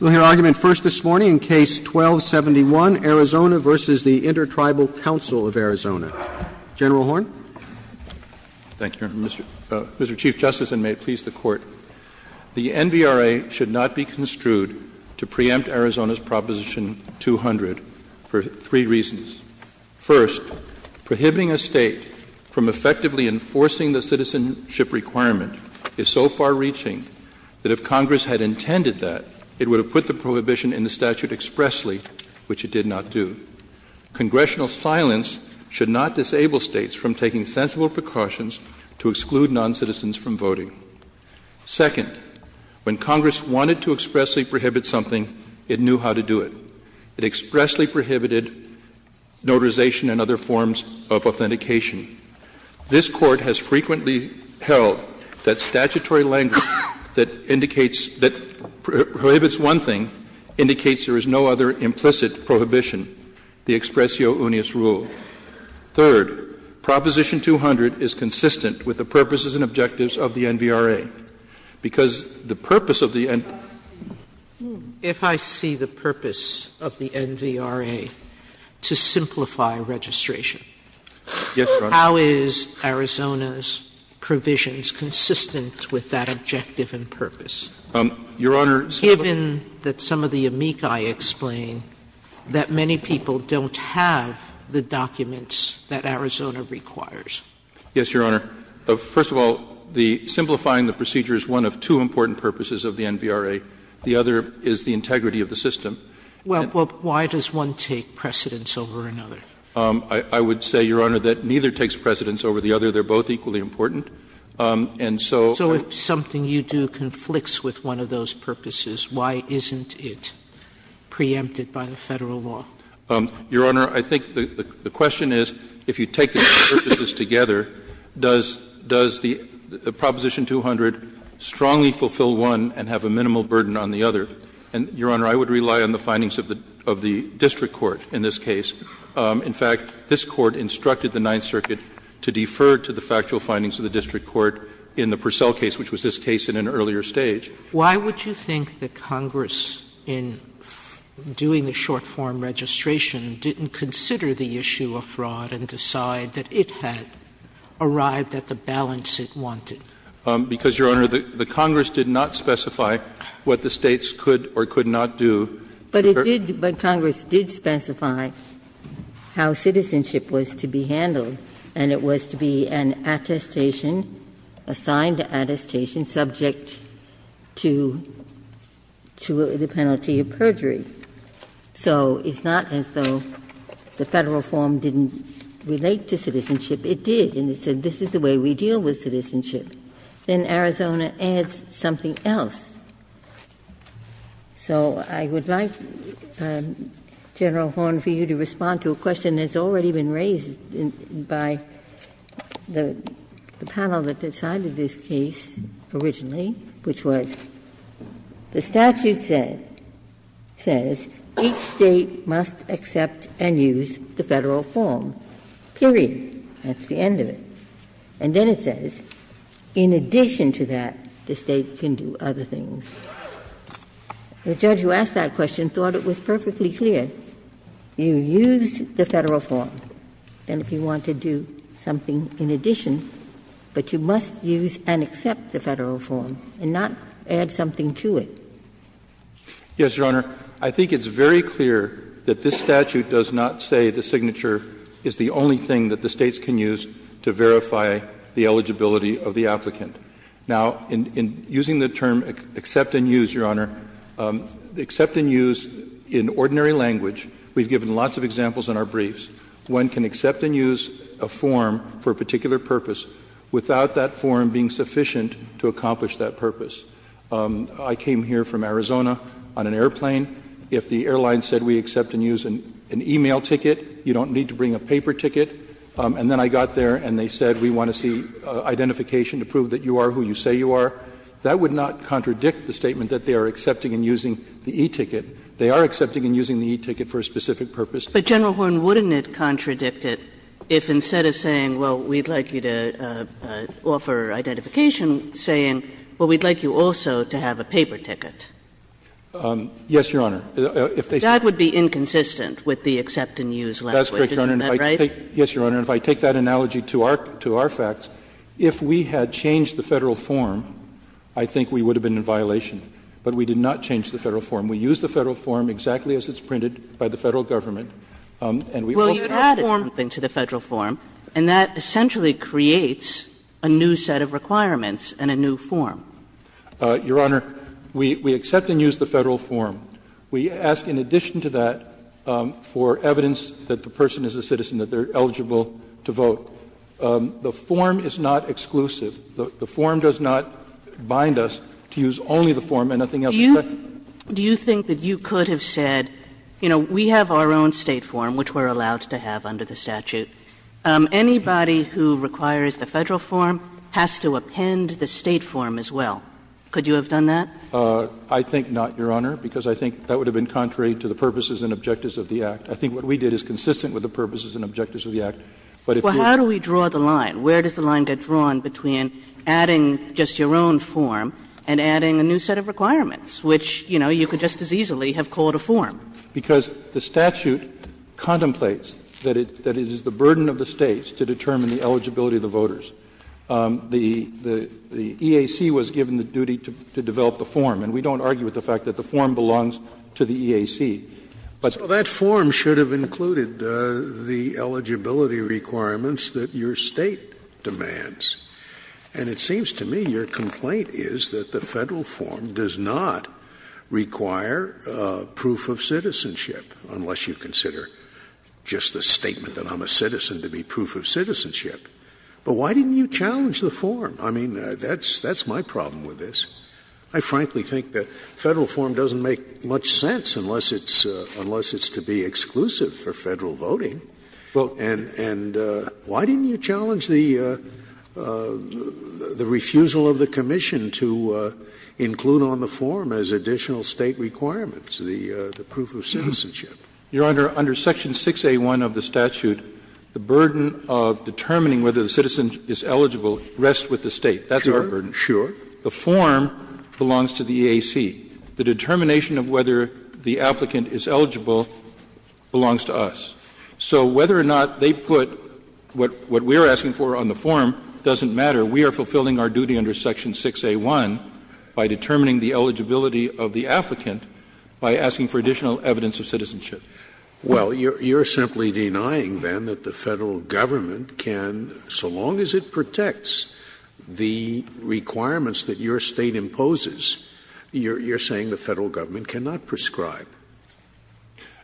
We'll hear argument first this morning in Case 12-71, Arizona v. the Inter Tribal Council of Arizona. General Horn. Thank you, Mr. Chief Justice, and may it please the Court. The NVRA should not be construed to preempt Arizona's Proposition 200 for three reasons. First, prohibiting a State from effectively enforcing the citizenship requirement is so far-reaching that if Congress had intended that, it would have put the prohibition in the statute expressly, which it did not do. Congressional silence should not disable States from taking sensible precautions to exclude noncitizens from voting. Second, when Congress wanted to expressly prohibit something, it knew how to do it. It expressly prohibited notarization and other forms of authentication. This Court has frequently held that statutory language that indicates that prohibits one thing indicates there is no other implicit prohibition, the expressio unis rule. Third, Proposition 200 is consistent with the purposes and objectives of the NVRA, because the purpose of the NVRA. Sotomayor, if I see the purpose of the NVRA to simplify registration. How is Arizona's provisions consistent with that objective and purpose? Given that some of the amici explain that many people don't have the documents that Arizona requires. Yes, Your Honor. First of all, simplifying the procedure is one of two important purposes of the NVRA. The other is the integrity of the system. Well, why does one take precedence over another? I would say, Your Honor, that neither takes precedence over the other. They are both equally important. And so. So if something you do conflicts with one of those purposes, why isn't it preempted by the Federal law? Your Honor, I think the question is, if you take the two purposes together, does the Proposition 200 strongly fulfill one and have a minimal burden on the other? And, Your Honor, I would rely on the findings of the district court in this case. In fact, this Court instructed the Ninth Circuit to defer to the factual findings of the district court in the Purcell case, which was this case in an earlier stage. Why would you think that Congress, in doing the short-form registration, didn't consider the issue of fraud and decide that it had arrived at the balance it wanted? Because, Your Honor, the Congress did not specify what the States could or could not do. Ginsburg. But it did, but Congress did specify how citizenship was to be handled, and it was to be an attestation, assigned attestation, subject to the penalty of perjury. So it's not as though the Federal form didn't relate to citizenship. It did, and it said this is the way we deal with citizenship. Then Arizona adds something else. So I would like, General Horne, for you to respond to a question that's already been raised by the panel that decided this case originally, which was the statute said, says each State must accept and use the Federal form, period. That's the end of it. And then it says, in addition to that, the State can do other things. The judge who asked that question thought it was perfectly clear. You use the Federal form, and if you want to do something in addition, but you must use and accept the Federal form and not add something to it. Horne, I think it's very clear that this statute does not say the signature is the only thing that the States can use to verify the eligibility of the applicant. Now, in using the term accept and use, Your Honor, accept and use in ordinary language, we've given lots of examples in our briefs, one can accept and use a form for a particular purpose without that form being sufficient to accomplish that purpose. I came here from Arizona on an airplane. If the airline said we accept and use an e-mail ticket, you don't need to bring a paper ticket, and then I got there and they said we want to see identification to prove that you are who you say you are, that would not contradict the statement that they are accepting and using the e-ticket. They are accepting and using the e-ticket for a specific purpose. Kagan But, General Horne, wouldn't it contradict it if instead of saying, well, we'd like you to offer identification, saying, well, we'd like you also to have a paper ticket? Horne Yes, Your Honor. If they say that. Kagan That would be inconsistent with the accept and use language. Isn't that right? Horne That's correct, Your Honor. And if I take that analogy to our facts, if we had changed the Federal form, I think we would have been in violation, but we did not change the Federal form. We used the Federal form exactly as it's printed by the Federal government. And we also added something to the Federal form, and that essentially creates a new set of requirements and a new form. Horne Your Honor, we accept and use the Federal form. We ask, in addition to that, for evidence that the person is a citizen, that they are eligible to vote. The form is not exclusive. The form does not bind us to use only the form and nothing else. Kagan Do you think that you could have said, you know, we have our own State form, which we are allowed to have under the statute. Anybody who requires the Federal form has to append the State form as well. Could you have done that? I think not, Your Honor, because I think that would have been contrary to the purposes and objectives of the Act. I think what we did is consistent with the purposes and objectives of the Act. But if you're Well, how do we draw the line? Where does the line get drawn between adding just your own form and adding a new set of requirements, which, you know, you could just as easily have called a form? Because the statute contemplates that it is the burden of the States to determine the eligibility of the voters. The EAC was given the duty to develop the form. And we don't argue with the fact that the form belongs to the EAC. But So that form should have included the eligibility requirements that your State demands. And it seems to me your complaint is that the Federal form does not require proof of citizenship, unless you consider just the statement that I'm a citizen to be proof of citizenship. But why didn't you challenge the form? I mean, that's my problem with this. I frankly think that Federal form doesn't make much sense unless it's to be exclusive for Federal voting. And why didn't you challenge the refusal of the commission to include on the form as additional State requirements the proof of citizenship? Your Honor, under section 6A1 of the statute, the burden of determining whether the citizen is eligible rests with the State. That's our burden. Sure. The form belongs to the EAC. The determination of whether the applicant is eligible belongs to us. So whether or not they put what we are asking for on the form doesn't matter. We are fulfilling our duty under section 6A1 by determining the eligibility of the applicant by asking for additional evidence of citizenship. Well, you are simply denying, then, that the Federal government can, so long as it protects the requirements that your State imposes, you are saying the Federal government cannot prescribe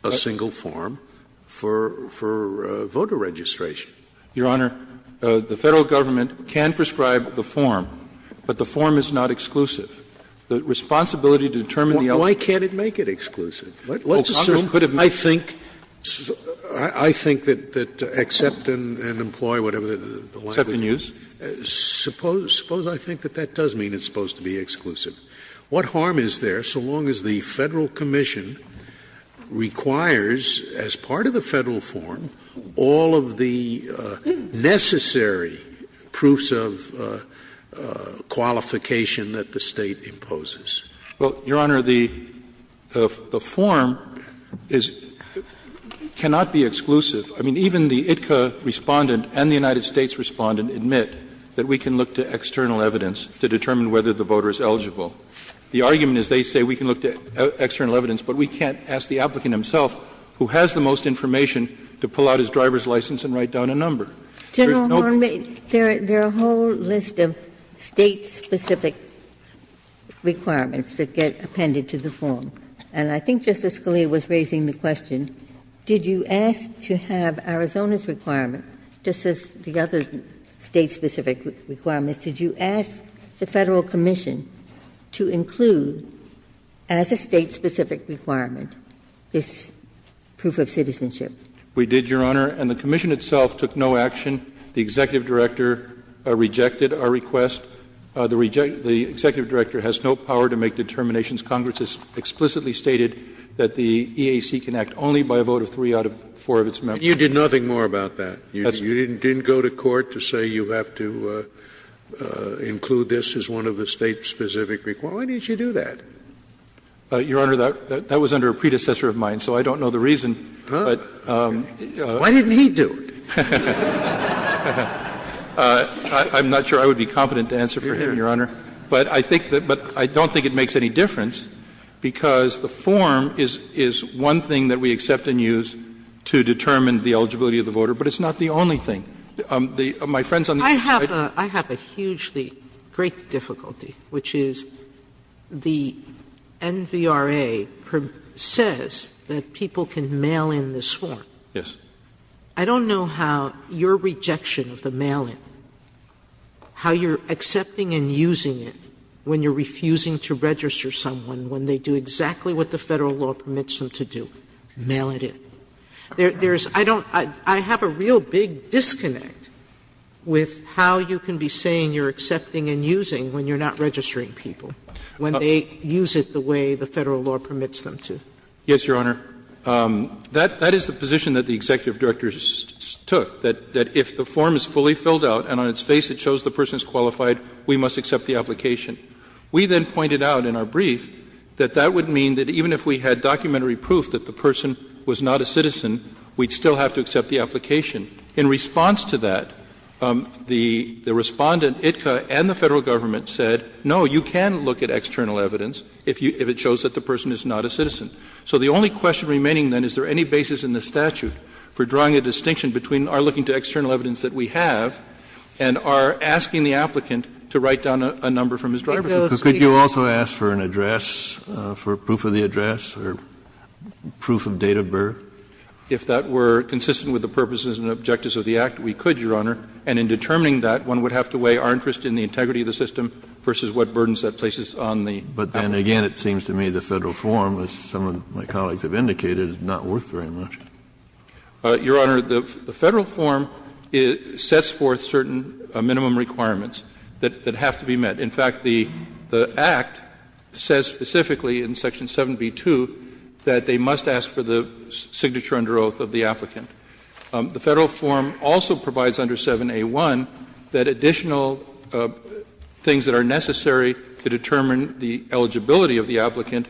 a single form for voter registration. Your Honor, the Federal government can prescribe the form, but the form is not exclusive. The responsibility to determine the eligibility of the applicant is not exclusive. Why can't it make it exclusive? Let's assume, I think, I think that accept and employ, whatever the language is, suppose I think that that does mean it's supposed to be exclusive. What harm is there so long as the Federal commission requires, as part of the Federal form, all of the necessary proofs of qualification that the State imposes? Well, Your Honor, the form is cannot be exclusive. I mean, even the ITCA Respondent and the United States Respondent admit that we can look to external evidence to determine whether the voter is eligible. The argument is they say we can look to external evidence, but we can't ask the applicant himself, who has the most information, to pull out his driver's license and write down a number. There is no question. Ginsburg, there are a whole list of State-specific requirements that get appended to the form. And I think Justice Scalia was raising the question, did you ask to have Arizona's requirement, just as the other State-specific requirements, did you ask the Federal commission to include, as a State-specific requirement, this proof of citizenship? We did, Your Honor, and the commission itself took no action. The executive director rejected our request. The executive director has no power to make determinations. Congress has explicitly stated that the EAC can act only by a vote of 3 out of 4 of its members. You did nothing more about that. You didn't go to court to say you have to include this as one of the State-specific requirements? Why didn't you do that? Your Honor, that was under a predecessor of mine, so I don't know the reason. But the reason is that the form is one thing that we accept and use to determine the eligibility of the voter, but it's not the only thing that we accept and use. It's not the only thing. My friends on the other side. Sotomayor, I have a hugely great difficulty, which is the NVRA says that people can mail in this form. Yes. I don't know how your rejection of the mail-in, how you're accepting and using it when you're refusing to register someone when they do exactly what the Federal law permits them to do, mail it in. There's — I don't — I have a real big disconnect with how you can be saying you're accepting and using when you're not registering people, when they use it the way the Federal law permits them to. Yes, Your Honor. That is the position that the executive directors took, that if the form is fully filled out and on its face it shows the person is qualified, we must accept the application. We then pointed out in our brief that that would mean that even if we had documentary proof that the person was not a citizen, we'd still have to accept the application. In response to that, the Respondent, ITCA, and the Federal government said, no, you can look at external evidence if you — if it shows that the person is not a citizen. So the only question remaining then, is there any basis in the statute for drawing a distinction between our looking to external evidence that we have and our asking Could you also ask for an address, for proof of the address, or proof of date of birth? If that were consistent with the purposes and objectives of the Act, we could, Your Honor. And in determining that, one would have to weigh our interest in the integrity of the system versus what burdens that places on the applicant. But then again, it seems to me the Federal form, as some of my colleagues have indicated, is not worth very much. Your Honor, the Federal form sets forth certain minimum requirements that have to be met. In fact, the Act says specifically in section 7b-2 that they must ask for the signature under oath of the applicant. The Federal form also provides under 7a-1 that additional things that are necessary to determine the eligibility of the applicant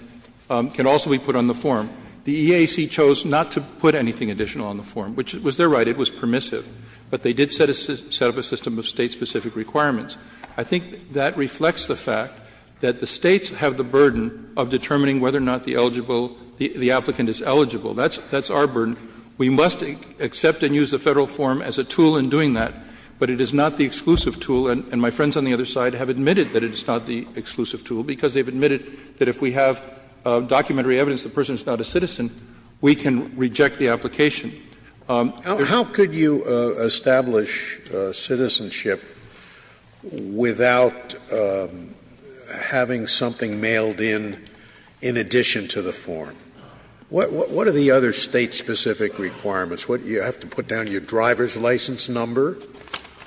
can also be put on the form. The EAC chose not to put anything additional on the form, which was their right. It was permissive. But they did set up a system of State-specific requirements. I think that reflects the fact that the States have the burden of determining whether or not the eligible, the applicant is eligible. That's our burden. We must accept and use the Federal form as a tool in doing that, but it is not the exclusive tool. And my friends on the other side have admitted that it is not the exclusive tool, because they have admitted that if we have documentary evidence the person is not a citizen, we can reject the application. Scalia. How could you establish citizenship without having something mailed in, in addition to the form? What are the other State-specific requirements? You have to put down your driver's license number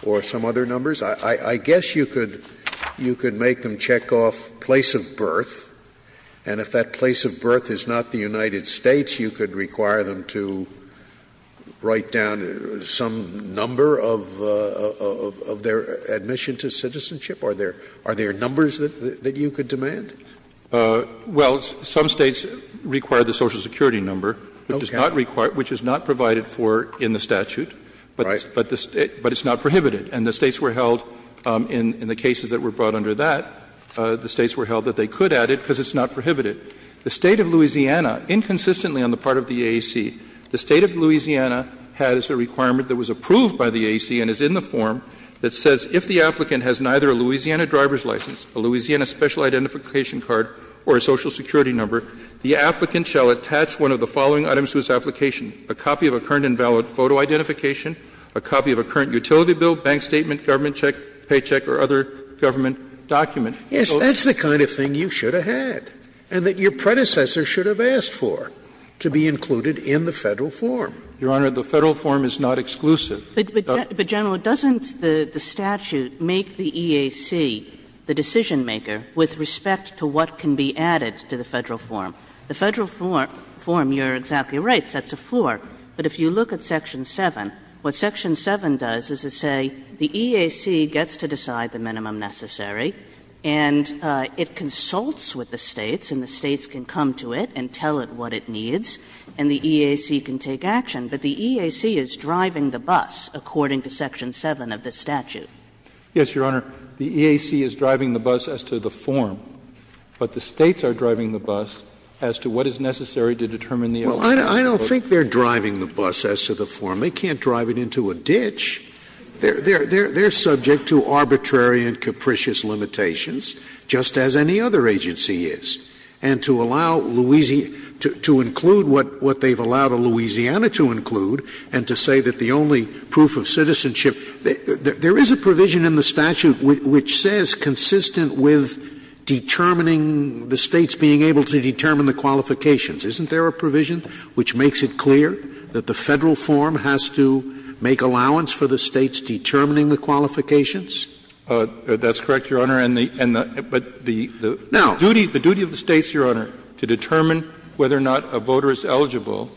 or some other numbers? I guess you could make them check off place of birth, and if that place of birth is not the United States, you could require them to write down some number of their admission to citizenship? Are there numbers that you could demand? Well, some States require the Social Security number, which is not required, which is not provided for in the statute. But it's not prohibited. And the States were held, in the cases that were brought under that, the States were held that they could add it because it's not prohibited. The State of Louisiana, inconsistently on the part of the AAC, the State of Louisiana has a requirement that was approved by the AAC and is in the form that says if the applicant has neither a Louisiana driver's license, a Louisiana special identification card, or a Social Security number, the applicant shall attach one of the following items to his application, a copy of a current invalid photo identification, a copy of a current utility bill, bank statement, government paycheck, or other government document. Yes, that's the kind of thing you should have had and that your predecessor should have asked for, to be included in the Federal form. Your Honor, the Federal form is not exclusive. But, General, doesn't the statute make the EAC the decision-maker with respect to what can be added to the Federal form? The Federal form, you're exactly right, sets a floor. But if you look at section 7, what section 7 does is to say the EAC gets to decide the minimum necessary, and it consults with the States, and the States can come to it and tell it what it needs, and the EAC can take action. But the EAC is driving the bus, according to section 7 of the statute. Yes, Your Honor. The EAC is driving the bus as to the form, but the States are driving the bus as to what is necessary to determine the eligibility. Well, I don't think they're driving the bus as to the form. They can't drive it into a ditch. They're subject to arbitrary and capricious limitations, just as any other agency is. And to allow Louisiana to include what they've allowed Louisiana to include, and to say that the only proof of citizenship — there is a provision in the statute which says, consistent with determining the States being able to determine the qualifications. Isn't there a provision which makes it clear that the Federal form has to make allowance for the States determining the qualifications? That's correct, Your Honor. And the — but the duty of the States, Your Honor, to determine whether or not a voter is eligible,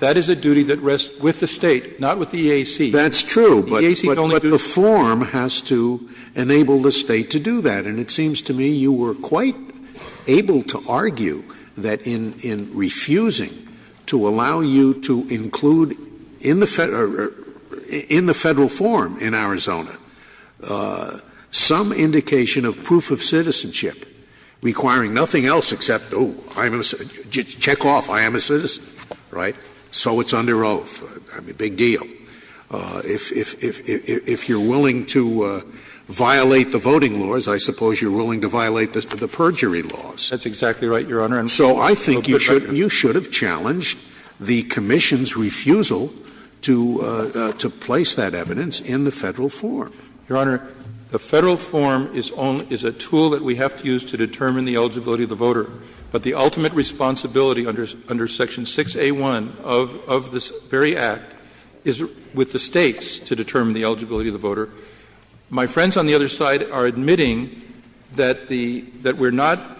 that is a duty that rests with the State, not with the EAC. That's true, but the form has to enable the State to do that. And it seems to me you were quite able to argue that in refusing to allow you to include in the Federal form in Arizona some indication of proof of citizenship requiring nothing else except, oh, I'm a citizen, check off, I am a citizen, right? So it's under oath, I mean, big deal. If you're willing to violate the voting laws, I suppose you're willing to violate the perjury laws. That's exactly right, Your Honor. So I think you should have challenged the Commission's refusal to place that evidence in the Federal form. Your Honor, the Federal form is a tool that we have to use to determine the eligibility of the voter, but the ultimate responsibility under Section 6A1 of this very Act is with the States to determine the eligibility of the voter. My friends on the other side are admitting that the — that we're not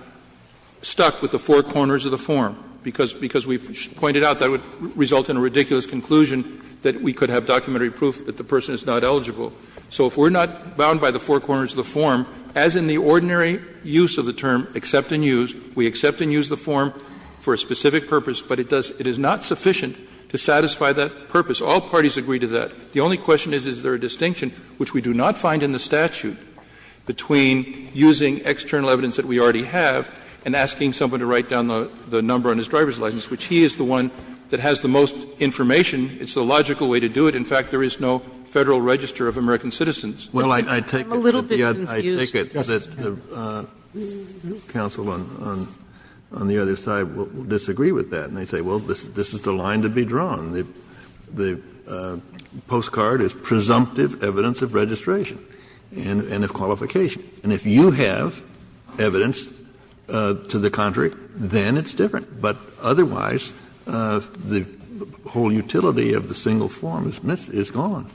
stuck with the four corners of the form, because we've pointed out that would result in a ridiculous conclusion that we could have documentary proof that the person is not eligible. So if we're not bound by the four corners of the form, as in the ordinary use of the term, accept and use, we accept and use the form for a specific purpose, but it is not sufficient to satisfy that purpose. All parties agree to that. The only question is, is there a distinction, which we do not find in the statute, between using external evidence that we already have and asking someone to write down the number on his driver's license, which he is the one that has the most information. It's the logical way to do it. In fact, there is no Federal register of American citizens. Kennedy, I'm a little bit confused. Kennedy, I take it that the counsel on the other side will disagree with that, and they say, well, this is the line to be drawn. The postcard is presumptive evidence of registration and of qualification. And if you have evidence to the contrary, then it's different. But otherwise, the whole utility of the single form is gone.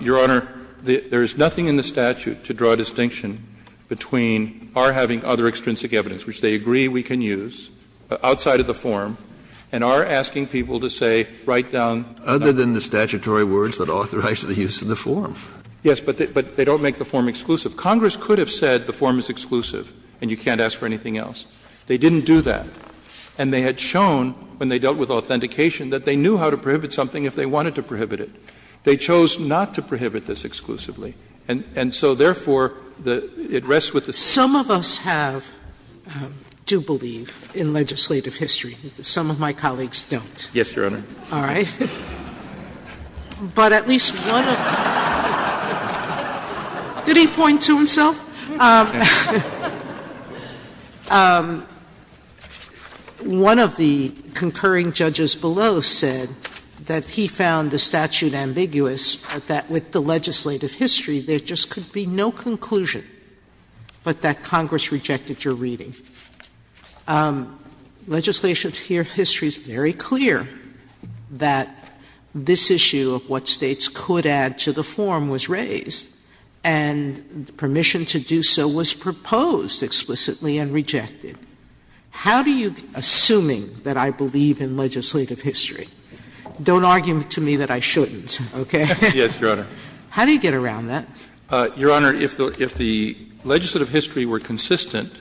Your Honor, there is nothing in the statute to draw a distinction between our having other extrinsic evidence, which they agree we can use, outside of the form, and our asking people to say, write down. Kennedy, other than the statutory words that authorize the use of the form. Yes, but they don't make the form exclusive. Congress could have said the form is exclusive and you can't ask for anything else. They didn't do that. And they had shown, when they dealt with authentication, that they knew how to prohibit something if they wanted to prohibit it. They chose not to prohibit this exclusively. And so, therefore, it rests with the State. Sotomayor, some of us have due belief in legislative history. Some of my colleagues don't. Yes, Your Honor. All right. But at least one of them. Did he point to himself? One of the concurring judges below said that he found the statute ambiguous, that with the legislative history, there just could be no conclusion. But that Congress rejected your reading. Legislative history is very clear that this issue of what States could add to the form was raised, and permission to do so was proposed explicitly and rejected. How do you, assuming that I believe in legislative history, don't argue to me that I shouldn't, okay? Yes, Your Honor. How do you get around that? Your Honor, if the legislative history were consistent,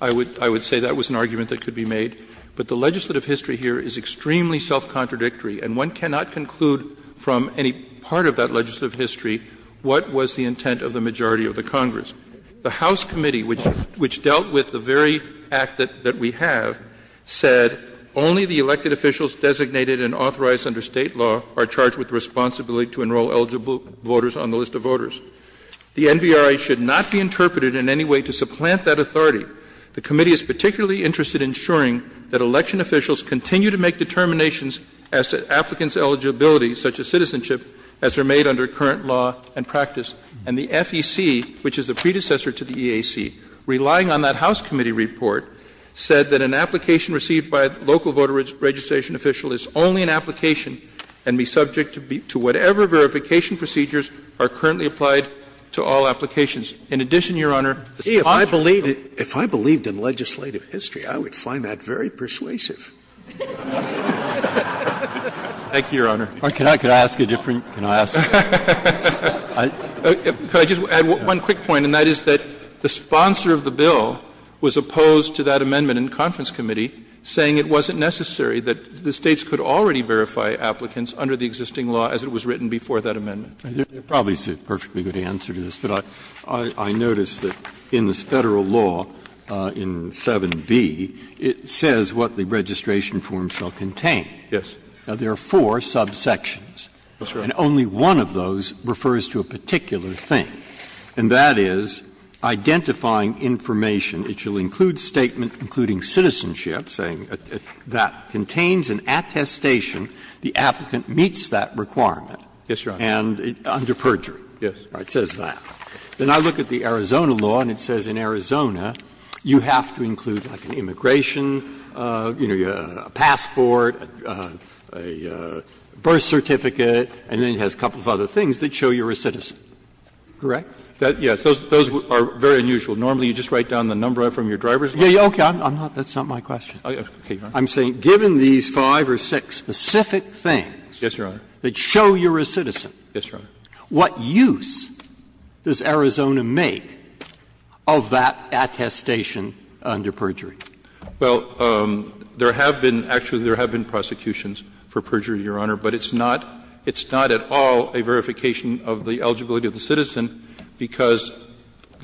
I would say that was an argument that could be made. But the legislative history here is extremely self-contradictory, and one cannot conclude from any part of that legislative history what was the intent of the majority of the Congress. The House committee, which dealt with the very act that we have, said only the elected officials designated and authorized under State law are charged with the responsibility to enroll eligible voters on the list of voters. The NVRA should not be interpreted in any way to supplant that authority. The committee is particularly interested in ensuring that election officials continue to make determinations as to applicants' eligibility, such as citizenship, as they are made under current law and practice. And the FEC, which is the predecessor to the EAC, relying on that House committee report, said that an application received by a local voter registration official is only an application and be subject to whatever verification procedures are currently applied to all applications. In addition, Your Honor, the sponsor of the bill. Scalia, if I believed in legislative history, I would find that very persuasive. Thank you, Your Honor. Can I ask a different? Can I ask a different? Can I just add one quick point, and that is that the sponsor of the bill was opposed to that amendment in conference committee, saying it wasn't necessary that the State's could already verify applicants under the existing law as it was written before that amendment. There probably is a perfectly good answer to this, but I notice that in this Federal law in 7b, it says what the registration form shall contain. Yes. Now, there are four subsections. Yes, Your Honor. And only one of those refers to a particular thing, and that is identifying information. It shall include statement including citizenship, saying that contains an attestation, the applicant meets that requirement. Yes, Your Honor. And under perjury. Yes. It says that. Then I look at the Arizona law, and it says in Arizona you have to include like an immigration, you know, a passport, a birth certificate, and then it has a couple of other things that show you're a citizen, correct? Yes. Those are very unusual. Normally, you just write down the number from your driver's license. Yes, okay. That's not my question. I'm saying given these five or six specific things that show you're a citizen. Yes, Your Honor. What use does Arizona make of that attestation under perjury? Well, there have been actually there have been prosecutions for perjury, Your Honor, but it's not at all a verification of the eligibility of the citizen, because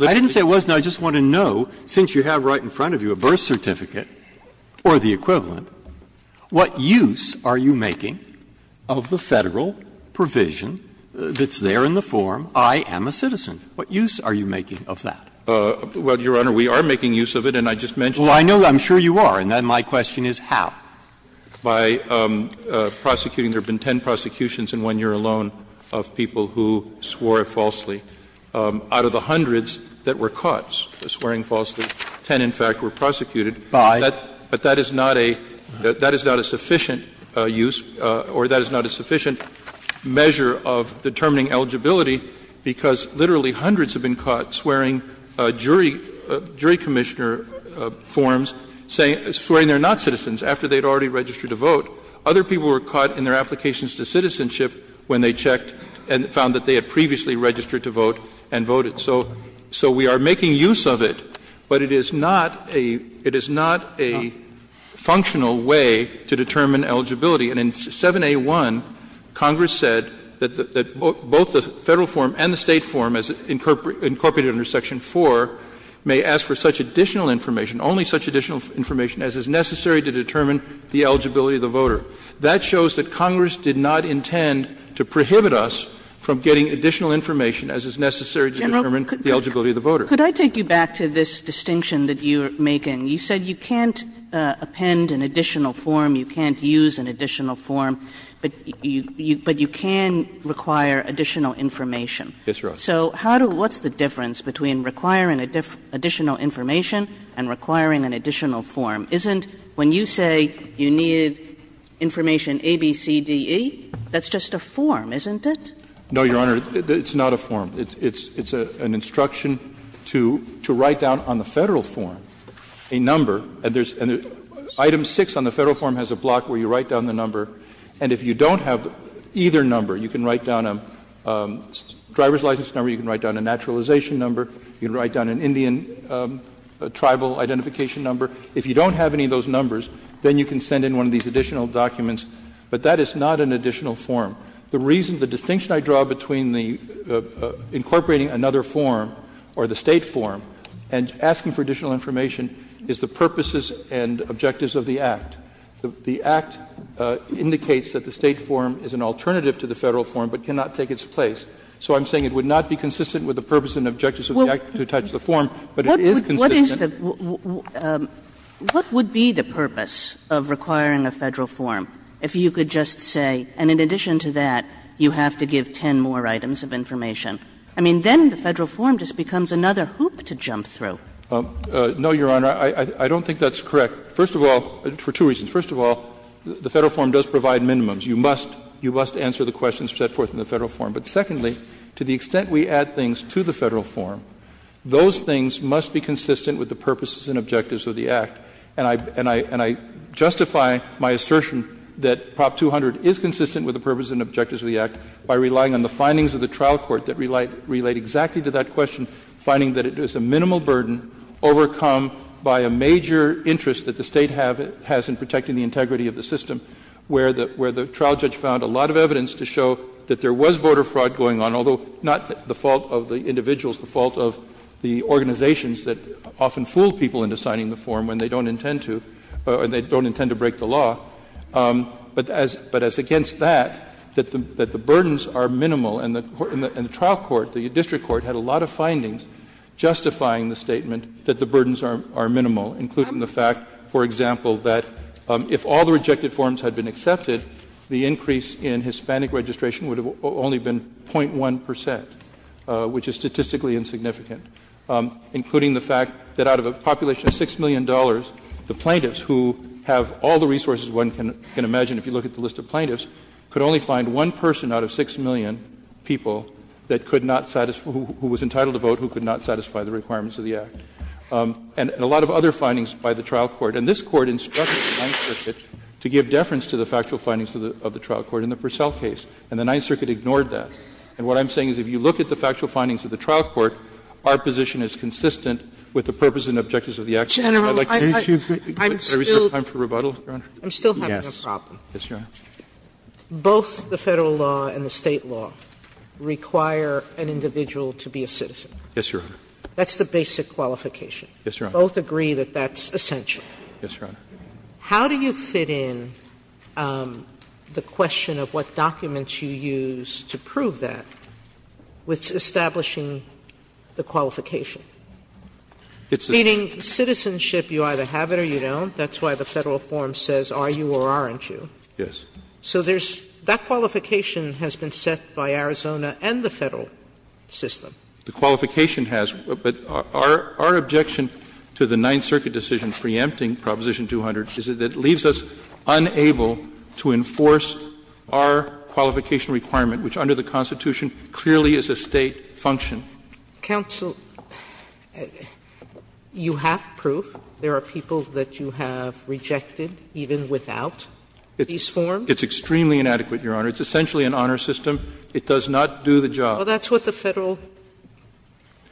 I didn't say it was, I just want to know, since you have right in front of you a birth certificate or the equivalent, what use are you making of the Federal provision that's there in the form, I am a citizen? What use are you making of that? Well, Your Honor, we are making use of it, and I just mentioned it. Well, I know, I'm sure you are. And then my question is how? By prosecuting. There have been ten prosecutions in one year alone of people who swore it falsely. Out of the hundreds that were caught swearing falsely, ten, in fact, were prosecuted. But that is not a sufficient use or that is not a sufficient measure of determining eligibility, because literally hundreds have been caught swearing jury commissioner forms, swearing they are not citizens after they had already registered to vote. Other people were caught in their applications to citizenship when they checked and found that they had previously registered to vote and voted. So we are making use of it, but it is not a functional way to determine eligibility. And in 7A1, Congress said that both the Federal form and the State form, as incorporated under Section 4, may ask for such additional information, only such additional information as is necessary to determine the eligibility of the voter. That shows that Congress did not intend to prohibit us from getting additional information as is necessary to determine the eligibility of the voter. Kagan. Kagan. Could I take you back to this distinction that you are making? You said you can't append an additional form, you can't use an additional form, but you can require additional information. Yes, Your Honor. So how do you do it? What's the difference between requiring additional information and requiring an additional form? Isn't when you say you need information A, B, C, D, E, that's just a form, isn't it? No, Your Honor, it's not a form. It's an instruction to write down on the Federal form a number, and there's an item 6 on the Federal form has a block where you write down the number, and if you don't have either number, you can write down a driver's license number, you can write down an Indian tribal identification number. If you don't have any of those numbers, then you can send in one of these additional documents. But that is not an additional form. The reason, the distinction I draw between the incorporating another form or the State form and asking for additional information is the purposes and objectives of the Act. The Act indicates that the State form is an alternative to the Federal form but cannot take its place. So I'm saying it would not be consistent with the purpose and objectives of the Act to touch that. It's a form, but it is consistent. What is the – what would be the purpose of requiring a Federal form if you could just say, and in addition to that, you have to give 10 more items of information? I mean, then the Federal form just becomes another hoop to jump through. No, Your Honor, I don't think that's correct. First of all, for two reasons. First of all, the Federal form does provide minimums. You must answer the questions set forth in the Federal form. But secondly, to the extent we add things to the Federal form, those things must be consistent with the purposes and objectives of the Act. And I justify my assertion that Prop 200 is consistent with the purposes and objectives of the Act by relying on the findings of the trial court that relate exactly to that question, finding that it is a minimal burden overcome by a major interest that the State has in protecting the integrity of the system, where the trial judge found a lot of evidence to show that there was voter fraud going on, although not the fault of the individuals, the fault of the organizations that often fool people into signing the form when they don't intend to, or they don't intend to break the law. But as against that, that the burdens are minimal. And the trial court, the district court, had a lot of findings justifying the statement that the burdens are minimal, including the fact, for example, that if all the rejected had been accepted, the increase in Hispanic registration would have only been .1 percent, which is statistically insignificant, including the fact that out of a population of $6 million, the plaintiffs, who have all the resources one can imagine if you look at the list of plaintiffs, could only find one person out of 6 million people that could not satisfy the requirements of the Act, and a lot of other findings by the trial court. And this Court instructed the Ninth Circuit to give deference to the factual findings of the trial court in the Purcell case, and the Ninth Circuit ignored that. And what I'm saying is if you look at the factual findings of the trial court, our position is consistent with the purpose and objectives of the Act. Sotomayor, I'd like to ask you a question. Sotomayor, I'm still having a problem. Both the Federal law and the State law require an individual to be a citizen. That's the basic qualification. Both agree that that's essential. Yes, Your Honor. How do you fit in the question of what documents you use to prove that with establishing the qualification? Meaning citizenship, you either have it or you don't. That's why the Federal form says are you or aren't you. Yes. So there's that qualification has been set by Arizona and the Federal system. The qualification has. But our objection to the Ninth Circuit decision preempting Proposition 200 is that it leaves us unable to enforce our qualification requirement, which under the Constitution clearly is a State function. Counsel, you have proof. There are people that you have rejected even without these forms. It's extremely inadequate, Your Honor. It's essentially an honor system. It does not do the job. Well, that's what the Federal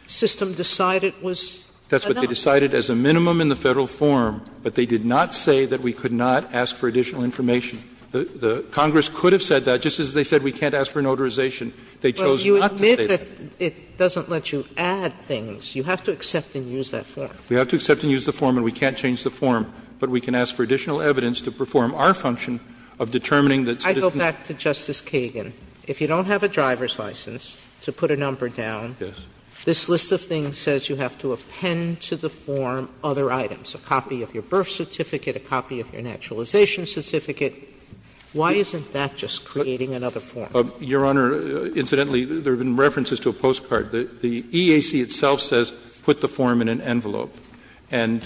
system decided was an honor. That's what they decided as a minimum in the Federal form. But they did not say that we could not ask for additional information. Congress could have said that, just as they said we can't ask for a notarization. They chose not to say that. Well, you admit that it doesn't let you add things. You have to accept and use that form. We have to accept and use the form, and we can't change the form. But we can ask for additional evidence to perform our function of determining that citizenship. I go back to Justice Kagan. If you don't have a driver's license to put a number down, this list of things says you have to append to the form other items, a copy of your birth certificate, a copy of your naturalization certificate. Why isn't that just creating another form? Your Honor, incidentally, there have been references to a postcard. The EAC itself says put the form in an envelope. And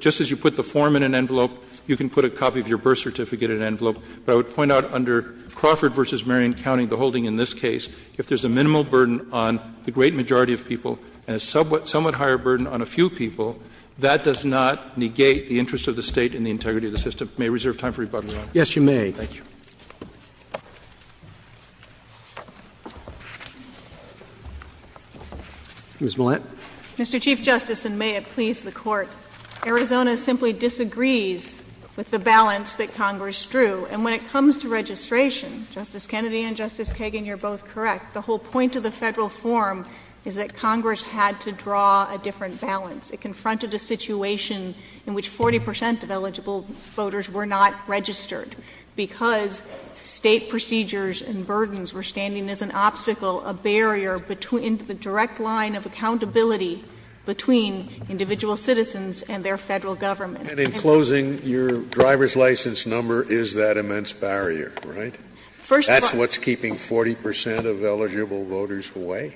just as you put the form in an envelope, you can put a copy of your birth certificate in an envelope. But I would point out under Crawford v. Marion County, the holding in this case, if there's a minimal burden on the great majority of people and a somewhat higher burden on a few people, that does not negate the interest of the State and the integrity of the system. May I reserve time for rebuttal, Your Honor? Yes, you may. Thank you. Ms. Millett. Mr. Chief Justice, and may it please the Court. Arizona simply disagrees with the balance that Congress drew. And when it comes to registration, Justice Kennedy and Justice Kagan, you're both correct. The whole point of the federal form is that Congress had to draw a different balance. It confronted a situation in which 40% of eligible voters were not registered. Because state procedures and burdens were standing as an obstacle, a barrier into the direct line of accountability between individual citizens and their federal government. And in closing, your driver's license number is that immense barrier, right? That's what's keeping 40% of eligible voters away?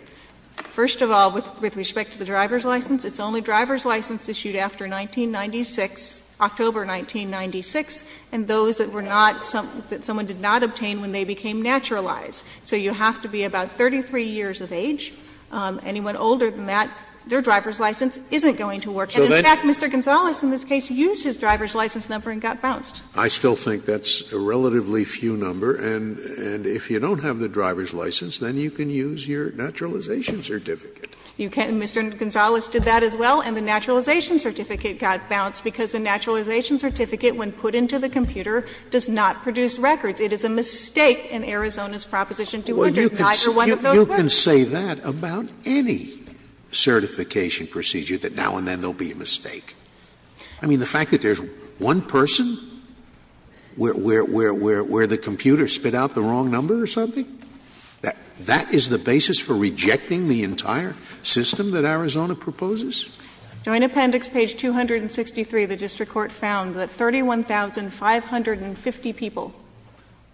First of all, with respect to the driver's license, it's only driver's license issued after 1996, October 1996, and those that were not, that someone did not obtain when they became naturalized. So you have to be about 33 years of age. Anyone older than that, their driver's license isn't going to work. And in fact, Mr. Gonzales in this case used his driver's license number and got bounced. I still think that's a relatively few number. And if you don't have the driver's license, then you can use your naturalization certificate. You can. Mr. Gonzales did that as well. And the naturalization certificate got bounced because a naturalization certificate when put into the computer does not produce records. It is a mistake in Arizona's Proposition 200. Neither one of those works. You can say that about any certification procedure, that now and then there will be a mistake. I mean, the fact that there's one person where the computer spit out the wrong number or something, that is the basis for rejecting the entire system that Arizona proposes? Joint Appendix, page 263, the district court found that 31,550 people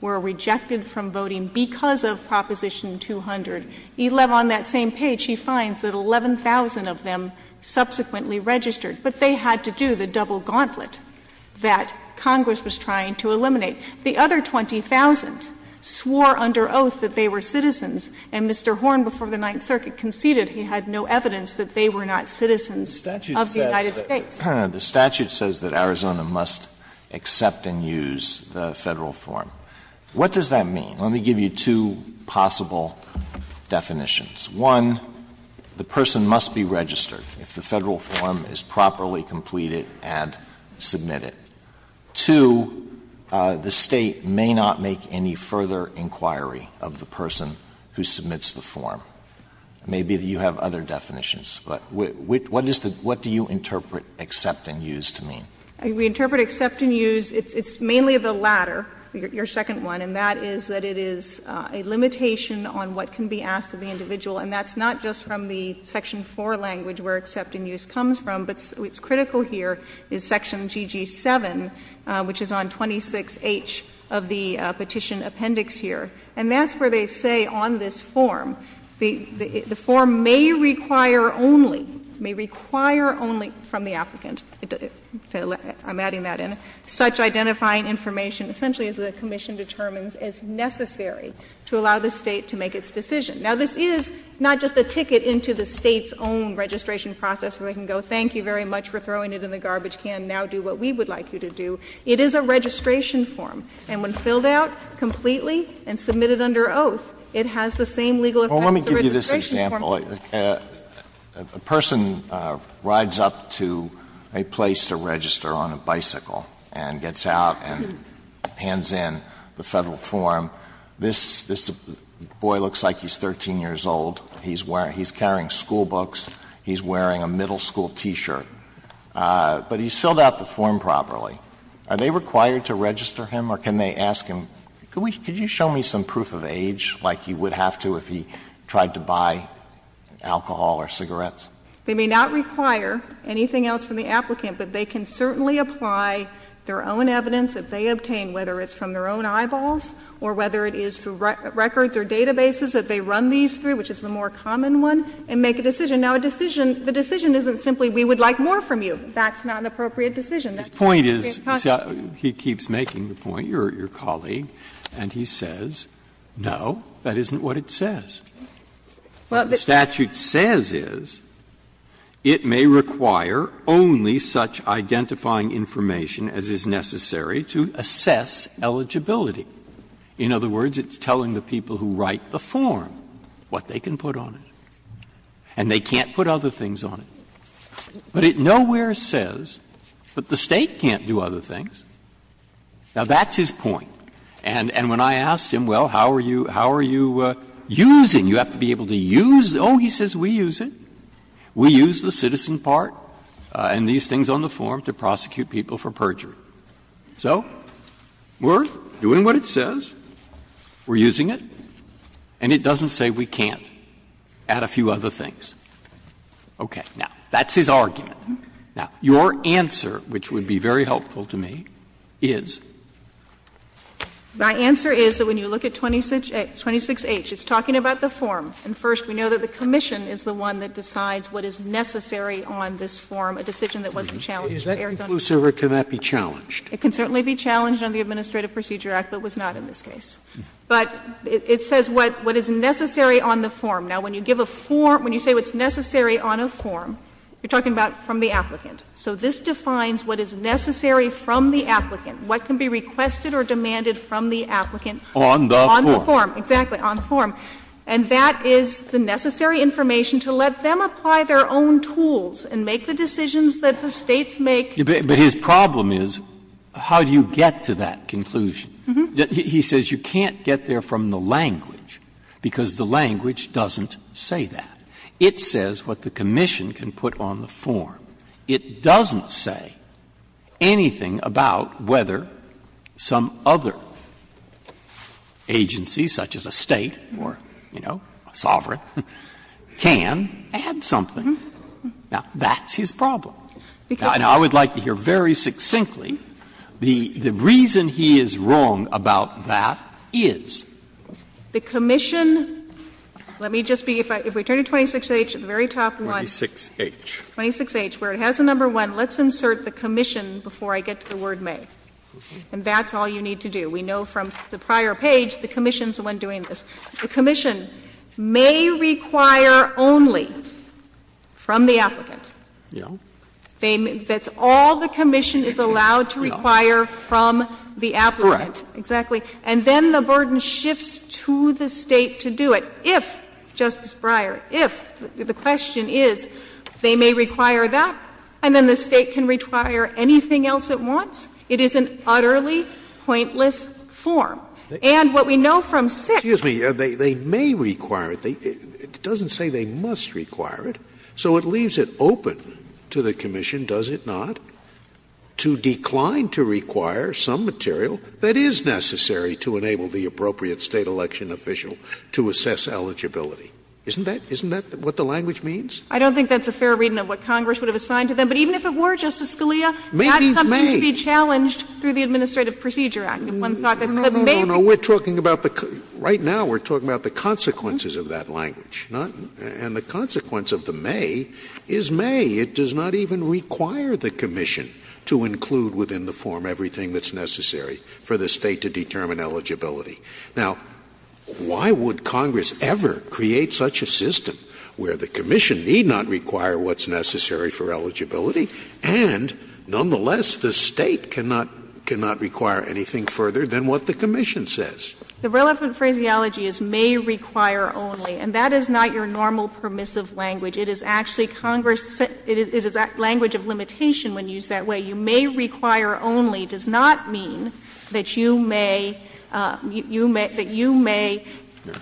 were rejected from voting because of Proposition 200. On that same page, he finds that 11,000 of them subsequently registered. But they had to do the double gauntlet that Congress was trying to eliminate. The other 20,000 swore under oath that they were citizens, and Mr. Horn before the Ninth Circuit said that they were citizens of the United States. Alito, the statute says that Arizona must accept and use the Federal form. What does that mean? Let me give you two possible definitions. One, the person must be registered if the Federal form is properly completed and submitted. Two, the State may not make any further inquiry of the person who submits the form. Maybe you have other definitions. But what is the — what do you interpret accept and use to mean? We interpret accept and use, it's mainly the latter, your second one, and that is that it is a limitation on what can be asked of the individual. And that's not just from the Section 4 language where accept and use comes from, but what's critical here is Section GG7, which is on 26H of the Petition Appendix here. And that's where they say on this form, the form may require only — may require only from the applicant — I'm adding that in — such identifying information, essentially as the Commission determines as necessary to allow the State to make its decision. Now, this is not just a ticket into the State's own registration process where they can go, thank you very much for throwing it in the garbage can, now do what we would like you to do. It is a registration form, and when filled out completely and submitted under oath, it has the same legal effects as a registration form. Alito, a person rides up to a place to register on a bicycle and gets out and hands in the Federal form, this boy looks like he's 13 years old, he's wearing — he's carrying schoolbooks, he's wearing a middle school T-shirt, but he's filled out the Federal form. Are they required to register him, or can they ask him, could you show me some proof of age, like you would have to if he tried to buy alcohol or cigarettes? They may not require anything else from the applicant, but they can certainly apply their own evidence that they obtain, whether it's from their own eyeballs or whether it is through records or databases that they run these through, which is the more common one, and make a decision. Now, a decision — the decision isn't simply we would like more from you. That's not an appropriate decision. That's not an appropriate constitution. Breyer's point is — he keeps making the point, your colleague, and he says, no, that isn't what it says. What the statute says is it may require only such identifying information as is necessary to assess eligibility. In other words, it's telling the people who write the form what they can put on it, and they can't put other things on it. But it nowhere says that the State can't do other things. Now, that's his point. And when I asked him, well, how are you using, you have to be able to use — oh, he says we use it. We use the citizen part and these things on the form to prosecute people for perjury. So we're doing what it says. We're using it. And it doesn't say we can't add a few other things. Okay. Now, that's his argument. Now, your answer, which would be very helpful to me, is? My answer is that when you look at 26H, it's talking about the form. And first, we know that the commission is the one that decides what is necessary on this form, a decision that wasn't challenged. Is that inclusive or can that be challenged? It can certainly be challenged under the Administrative Procedure Act, but was not in this case. But it says what is necessary on the form. Now, when you give a form, when you say what's necessary on a form, you're talking about from the applicant. So this defines what is necessary from the applicant, what can be requested or demanded from the applicant on the form. Exactly, on the form. And that is the necessary information to let them apply their own tools and make the decisions that the States make. But his problem is, how do you get to that conclusion? It doesn't say that. It says what the commission can put on the form. It doesn't say anything about whether some other agency, such as a State or, you know, a sovereign, can add something. Now, that's his problem. Now, I would like to hear very succinctly, the reason he is wrong about that is? The commission, let me just be, if we turn to 26H, the very top one. 26H. 26H, where it has a number 1, let's insert the commission before I get to the word may. And that's all you need to do. We know from the prior page the commission is the one doing this. The commission may require only from the applicant. Yes. That's all the commission is allowed to require from the applicant. Correct. Exactly. And then the burden shifts to the State to do it. If, Justice Breyer, if, the question is, they may require that, and then the State can require anything else it wants, it is an utterly pointless form. And what we know from 6H. Excuse me. They may require it. It doesn't say they must require it. So it leaves it open to the commission, does it not, to decline to require some material that is necessary to enable the appropriate State election official to assess eligibility. Isn't that what the language means? I don't think that's a fair reading of what Congress would have assigned to them. But even if it were, Justice Scalia, that comes to be challenged through the Administrative Procedure Act. If one thought that may be. No, no, no, no, we're talking about the, right now we're talking about the consequences of that language, not, and the consequence of the may is may. It does not even require the commission to include within the form everything that's necessary. For the State to determine eligibility. Now, why would Congress ever create such a system where the commission need not require what's necessary for eligibility, and nonetheless, the State cannot, cannot require anything further than what the commission says. The relevant phraseology is may require only. And that is not your normal permissive language. It is actually Congress, it is a language of limitation when used that way. You may require only does not mean that you may, you may, that you may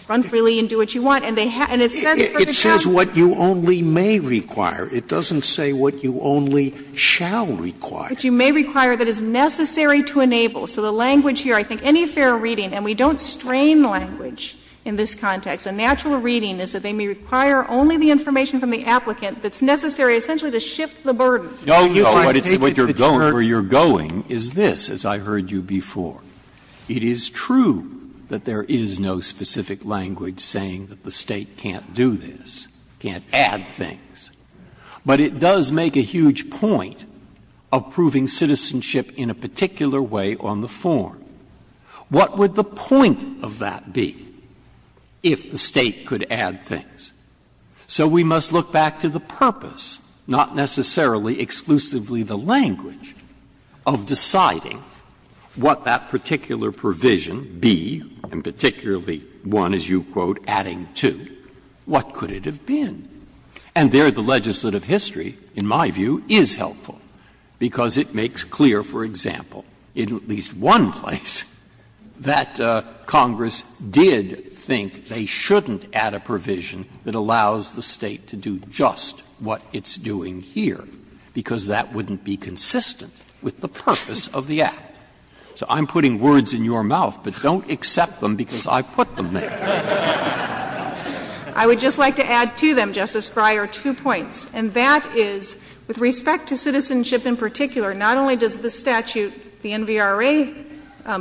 run freely and do what you want, and they have, and it's necessary for the job. It says what you only may require. It doesn't say what you only shall require. But you may require that is necessary to enable. So the language here, I think any fair reading, and we don't strain language in this context, a natural reading is that they may require only the information from the applicant that's necessary essentially to shift the burden. Breyer. No, no, what you're going, where you're going is this, as I heard you before. It is true that there is no specific language saying that the State can't do this, can't add things. But it does make a huge point of proving citizenship in a particular way on the form. What would the point of that be if the State could add things? So we must look back to the purpose, not necessarily exclusively the language, of deciding what that particular provision be, and particularly one, as you quote, adding to, what could it have been? And there the legislative history, in my view, is helpful, because it makes clear, for example, in at least one place, that Congress did think they shouldn't add a provision that allows the State to do just what it's doing here, because that wouldn't be consistent with the purpose of the Act. So I'm putting words in your mouth, but don't accept them because I put them there. I would just like to add to them, Justice Breyer, two points, and that is, with respect to citizenship in particular, not only does the statute, the NVRA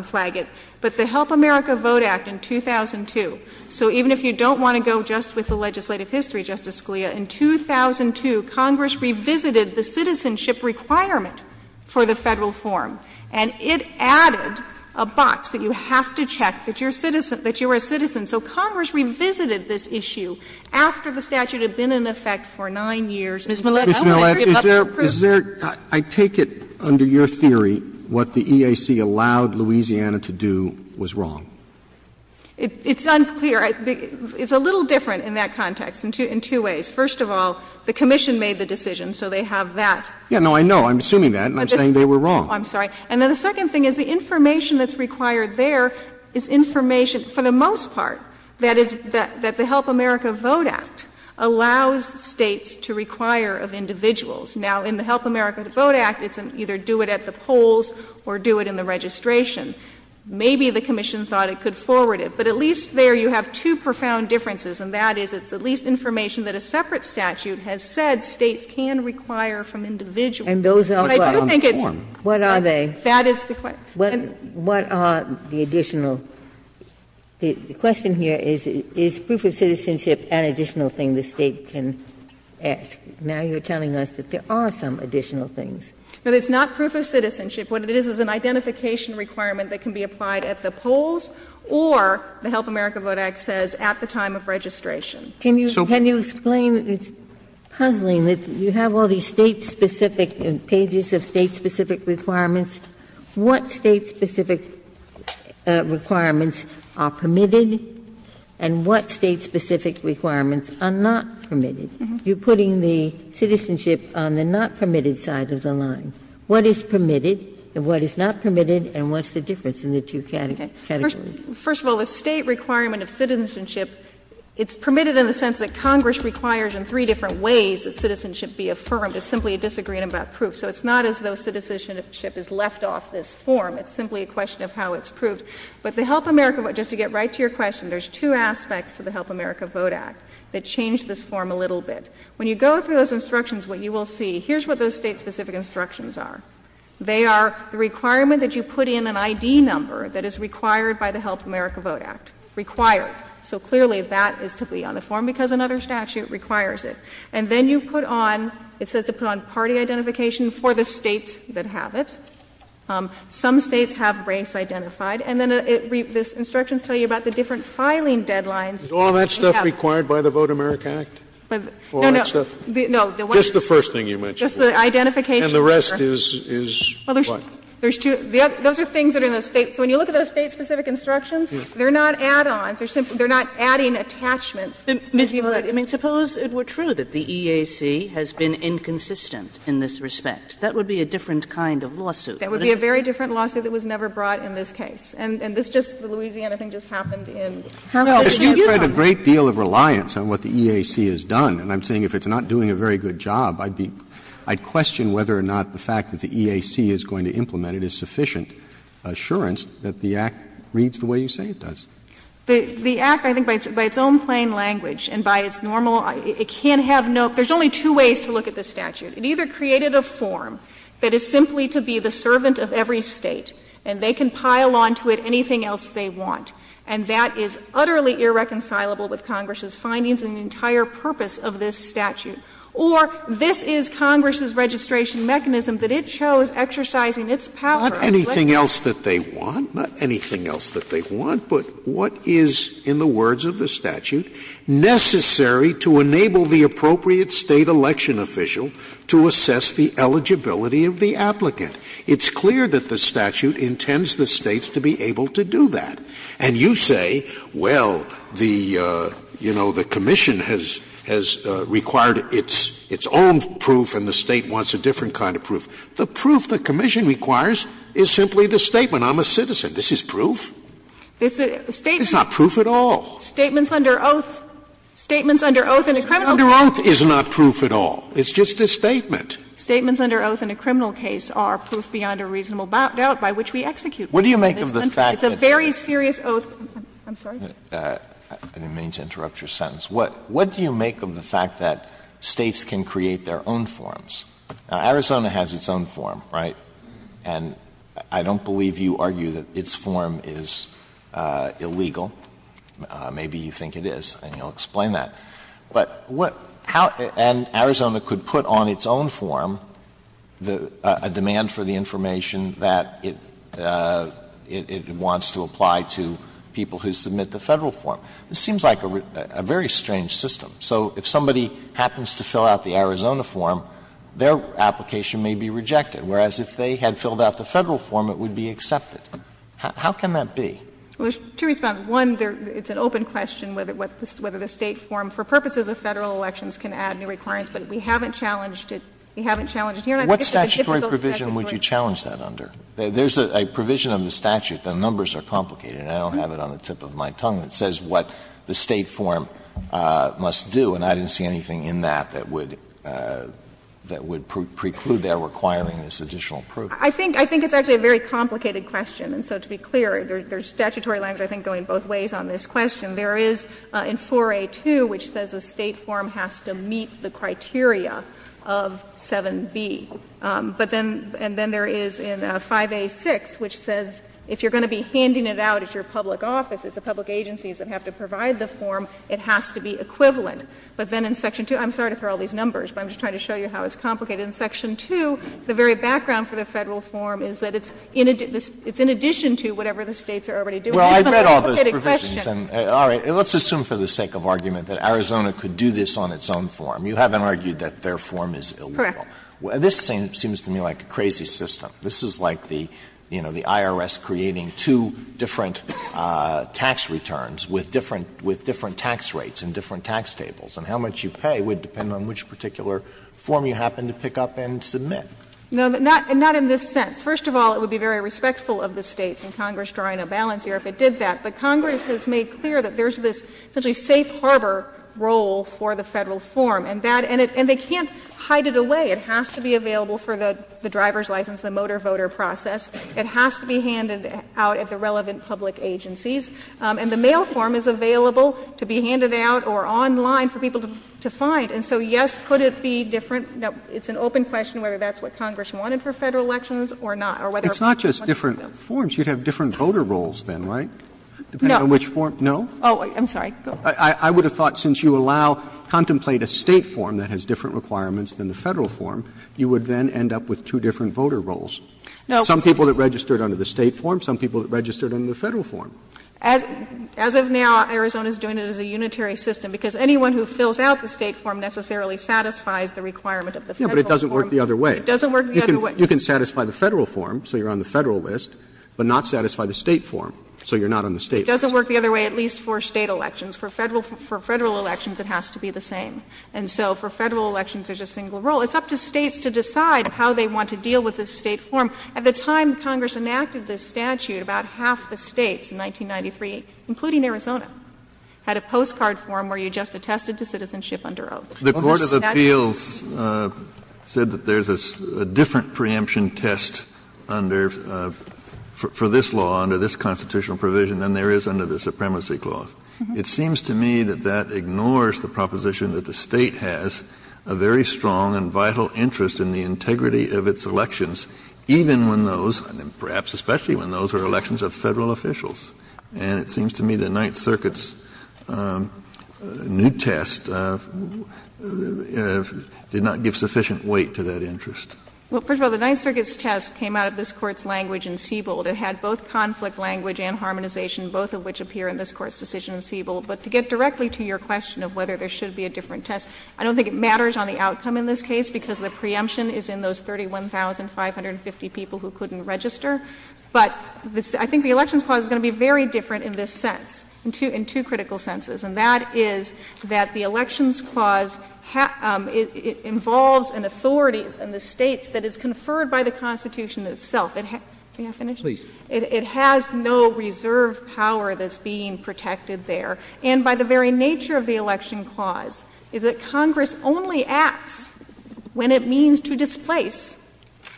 flag it, but the Help America Vote Act in 2002, so even if you don't want to go just with the legislative history, Justice Scalia, in 2002, Congress revisited the citizenship requirement for the Federal form, and it added a box that you have to check that you're a citizen. So Congress revisited this issue after the statute had been in effect for nine years. Ms. Millett, I want to give up the proof. Mr. Millett, is there — is there — I take it under your theory what the EAC allowed Louisiana to do was wrong. It's unclear. It's a little different in that context in two ways. First of all, the Commission made the decision, so they have that. Yes, no, I know. I'm assuming that, and I'm saying they were wrong. I'm sorry. And then the second thing is the information that's required there is information for the most part that is — that the Help America Vote Act allows States to require of individuals. Now, in the Help America Vote Act, it's either do it at the polls or do it in the registration. Maybe the Commission thought it could forward it, but at least there you have two profound differences, and that is it's at least information that a separate statute has said States can require from individuals. And those are on form. What are they? That is the question. What are the additional — the question here is, is proof of citizenship an additional thing the State can ask? Now you're telling us that there are some additional things. No, it's not proof of citizenship. What it is is an identification requirement that can be applied at the polls or, the Help America Vote Act says, at the time of registration. Can you explain — it's puzzling that you have all these State-specific — pages of State-specific requirements. What State-specific requirements are permitted and what State-specific requirements are not permitted? You're putting the citizenship on the not permitted side of the line. What is permitted and what is not permitted, and what's the difference in the two categories? First of all, the State requirement of citizenship, it's permitted in the sense that Congress requires in three different ways that citizenship be affirmed. It's simply a disagreement about proof. So it's not as though citizenship is left off this form. It's simply a question of how it's proved. But the Help America — just to get right to your question, there's two aspects to the Help America Vote Act that change this form a little bit. When you go through those instructions, what you will see, here's what those State-specific instructions are. They are the requirement that you put in an ID number that is required by the Help America Vote Act. Required. So clearly, that is to be on the form because another statute requires it. And then you put on — it says to put on party identification for the States that have it. Some States have race identified. And then it — this instruction tells you about the different filing deadlines that you have. Scalia. Is all that stuff required by the Vote America Act? No, no. All that stuff? No. Just the first thing you mentioned. Just the identification. And the rest is what? Well, there's two. Those are things that are in the State. So when you look at those State-specific instructions, they're not add-ons. They're simply — they're not adding attachments to people that you know. I mean, suppose it were true that the EAC has been inconsistent in this respect. That would be a different kind of lawsuit. That would be a very different lawsuit that was never brought in this case. And this just — the Louisiana thing just happened in Herman, Louisiana. No. We've had a great deal of reliance on what the EAC has done. And I'm saying if it's not doing a very good job, I'd be — I'd question whether or not the fact that the EAC is going to implement it is sufficient assurance that the Act reads the way you say it does. The Act, I think, by its own plain language and by its normal — it can't have no — there's only two ways to look at this statute. It either created a form that is simply to be the servant of every State, and they can pile on to it anything else they want. And that is utterly irreconcilable with Congress's findings and the entire purpose of this statute. Or this is Congress's registration mechanism that it chose, exercising its power. Scalia. Not anything else that they want, not anything else that they want, but what is, in the words of the statute, necessary to enable the appropriate State election official to assess the eligibility of the applicant? It's clear that the statute intends the States to be able to do that. And you say, well, the — you know, the commission has — has required its — its own proof, and the State wants a different kind of proof. The proof the commission requires is simply the statement, I'm a citizen. This is proof? It's not proof at all. Under oath is not proof at all. It's just a statement. Statements under oath in a criminal case are proof beyond a reasonable doubt by which we execute. What do you make of the fact that — It's a very serious oath. I'm sorry. I didn't mean to interrupt your sentence. What do you make of the fact that States can create their own forms? Now, Arizona has its own form, right? And I don't believe you argue that its form is illegal. Maybe you think it is, and you'll explain that. But what — how — and Arizona could put on its own form the — a demand for the information that it — it wants to apply to people who submit the Federal form. This seems like a very strange system. So if somebody happens to fill out the Arizona form, their application may be rejected. Whereas, if they had filled out the Federal form, it would be accepted. How can that be? Well, there's two responses. One, there — it's an open question whether the State form, for purposes of Federal elections, can add new requirements. But we haven't challenged it. We haven't challenged it here, and I think it's a difficult statutory question. What statutory provision would you challenge that under? There's a provision of the statute. The numbers are complicated, and I don't have it on the tip of my tongue that says what the State form must do, and I didn't see anything in that that would — that would preclude their requiring this additional proof. I think — I think it's actually a very complicated question. And so to be clear, there's statutory language I think going both ways on this question. There is in 4A.2, which says the State form has to meet the criteria of 7B. But then — and then there is in 5A.6, which says if you're going to be handing it out at your public office, it's the public agencies that have to provide the form. It has to be equivalent. But then in Section 2 — I'm sorry to throw all these numbers, but I'm just trying to show you how it's complicated. In Section 2, the very background for the Federal form is that it's in — it's in addition to whatever the States are already doing. It's even a complicated question. Alito, let's assume for the sake of argument that Arizona could do this on its own form. You haven't argued that their form is illegal. Correct. This seems to me like a crazy system. This is like the, you know, the IRS creating two different tax returns with different — with different tax rates and different tax tables. And how much you pay would depend on which particular form you happen to pick up and submit. No, not in this sense. First of all, it would be very respectful of the States and Congress drawing a balance here if it did that. But Congress has made clear that there's this essentially safe harbor role for the Federal form. And that — and they can't hide it away. It has to be available for the driver's license, the motor voter process. It has to be handed out at the relevant public agencies. And the mail form is available to be handed out or online for people to find. And so, yes, could it be different? Now, it's an open question whether that's what Congress wanted for Federal elections or not, or whether it was just one of those. Roberts. Roberts. You'd have different voter roles then, right? No. No? Oh, I'm sorry. Go ahead. I would have thought since you allow — contemplate a State form that has different requirements than the Federal form, you would then end up with two different voter roles. Some people that registered under the State form, some people that registered under the Federal form. As of now, Arizona is doing it as a unitary system, because anyone who fills out the State form necessarily satisfies the requirement of the Federal form. No, but it doesn't work the other way. It doesn't work the other way. You can satisfy the Federal form, so you're on the Federal list, but not satisfy the State form, so you're not on the State list. It doesn't work the other way, at least for State elections. For Federal — for Federal elections, it has to be the same. And so for Federal elections, there's a single role. It's up to States to decide how they want to deal with the State form. At the time Congress enacted this statute, about half the States in 1993, including Arizona, had a postcard form where you just attested to citizenship under oath. The statute — The court of appeals said that there's a different preemption test under — for this law, under this constitutional provision, than there is under the Supremacy Clause. It seems to me that that ignores the proposition that the State has a very strong and vital interest in the integrity of its elections, even when those — perhaps especially when those are elections of Federal officials. And it seems to me the Ninth Circuit's new test did not give sufficient weight to that interest. Well, first of all, the Ninth Circuit's test came out of this Court's language in Siebold. It had both conflict language and harmonization, both of which appear in this Court's decision in Siebold. But to get directly to your question of whether there should be a different test, I don't think it matters on the outcome in this case because the preemption is in those 31,550 people who couldn't register. But I think the Elections Clause is going to be very different in this sense, in two critical senses, and that is that the Elections Clause involves an authority in the States that is conferred by the Constitution itself. May I finish? Please. It has no reserve power that's being protected there. And by the very nature of the Election Clause is that Congress only acts when it means to displace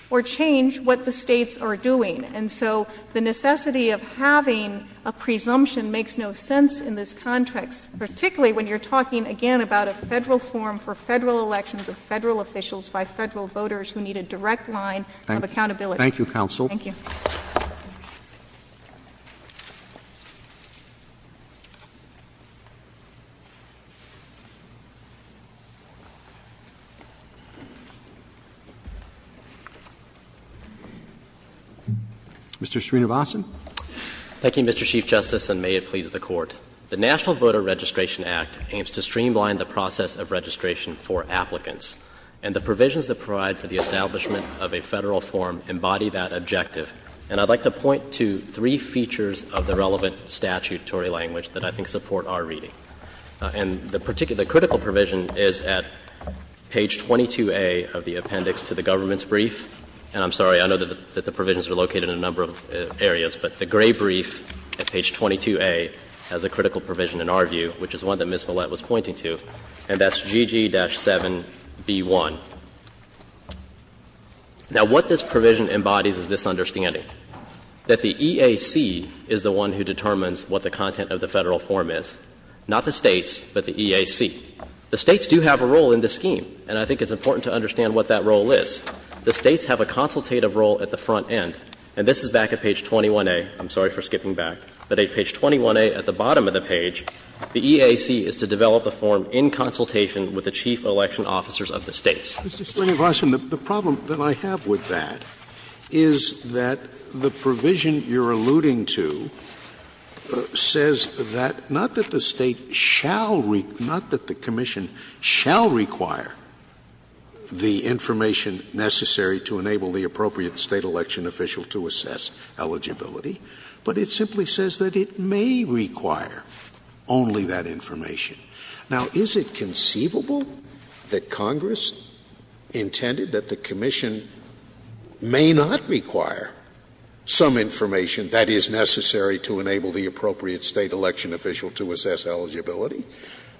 or change what the States are doing. And so the necessity of having a presumption makes no sense in this context, particularly when you're talking, again, about a Federal form for Federal elections of Federal officials by Federal voters who need a direct line of accountability. Thank you, counsel. Thank you. Mr. Srinivasan. Thank you, Mr. Chief Justice, and may it please the Court. The National Voter Registration Act aims to streamline the process of registration for applicants, and the provisions that provide for the establishment of a Federal form embody that objective. And I'd like to point to three features of the relevant statutory language that I think support our reading. And the particular critical provision is at page 22A of the appendix to the government's brief. And I'm sorry, I know that the provisions are located in a number of areas, but the gray brief at page 22A has a critical provision in our view, which is one that Ms. Millett was pointing to, and that's GG-7B1. Now, what this provision embodies is this understanding, that the EAC is the one who determines what the content of the Federal form is, not the States, but the EAC. The States do have a role in this scheme, and I think it's important to understand what that role is. The States have a consultative role at the front end, and this is back at page 21A. I'm sorry for skipping back, but at page 21A at the bottom of the page, the EAC is to develop a form in consultation with the chief election officers of the States. Scalia, the problem that I have with that is that the provision you're alluding to says that, not that the State shall, not that the commission shall require the information necessary to enable the appropriate State election official to assess eligibility, but it simply says that it may require only that information. Now, is it conceivable that Congress intended that the commission may not require some information that is necessary to enable the appropriate State election official to assess eligibility,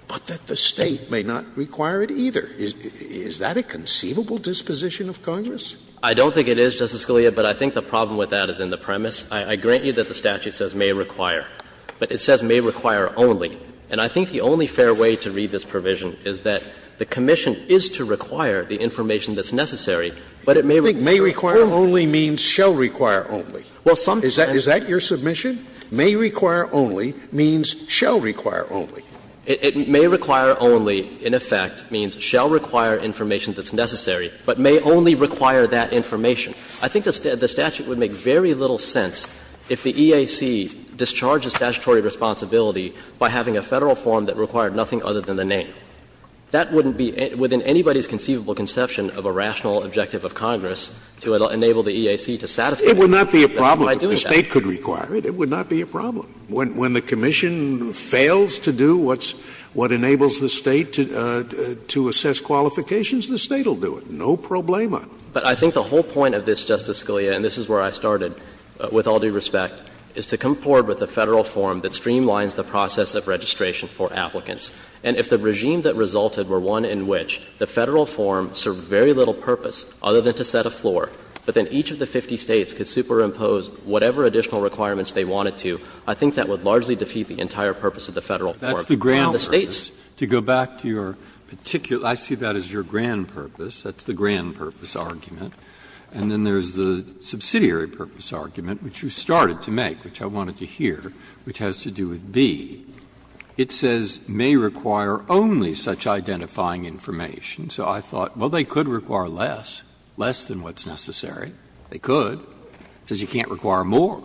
but that the State may not require it either? Is that a conceivable disposition of Congress? I don't think it is, Justice Scalia, but I think the problem with that is in the premise. I grant you that the statute says may require, but it says may require only. And I think the only fair way to read this provision is that the commission is to require the information that's necessary, but it may require only. Scalia, I think may require only means shall require only. Is that your submission? May require only means shall require only. It may require only, in effect, means shall require information that's necessary, but may only require that information. I think the statute would make very little sense if the EAC discharged a statutory responsibility by having a Federal form that required nothing other than the name. That wouldn't be within anybody's conceivable conception of a rational objective of Congress to enable the EAC to satisfy that by doing that. Scalia, it would not be a problem if the State could require it. It would not be a problem. When the commission fails to do what's — what enables the State to assess qualifications, the State will do it. No problema. But I think the whole point of this, Justice Scalia, and this is where I started with all due respect, is to come forward with a Federal form that streamlines the process of registration for applicants. And if the regime that resulted were one in which the Federal form served very little purpose other than to set a floor, but then each of the 50 States could superimpose whatever additional requirements they wanted to, I think that would largely defeat the entire purpose of the Federal form. That's the grand purpose. To go back to your particular — I see that as your grand purpose. That's the grand purpose argument. And then there's the subsidiary purpose argument, which you started to make, which I wanted to hear, which has to do with B. It says, May require only such identifying information. So I thought, well, they could require less, less than what's necessary. They could. It says you can't require more.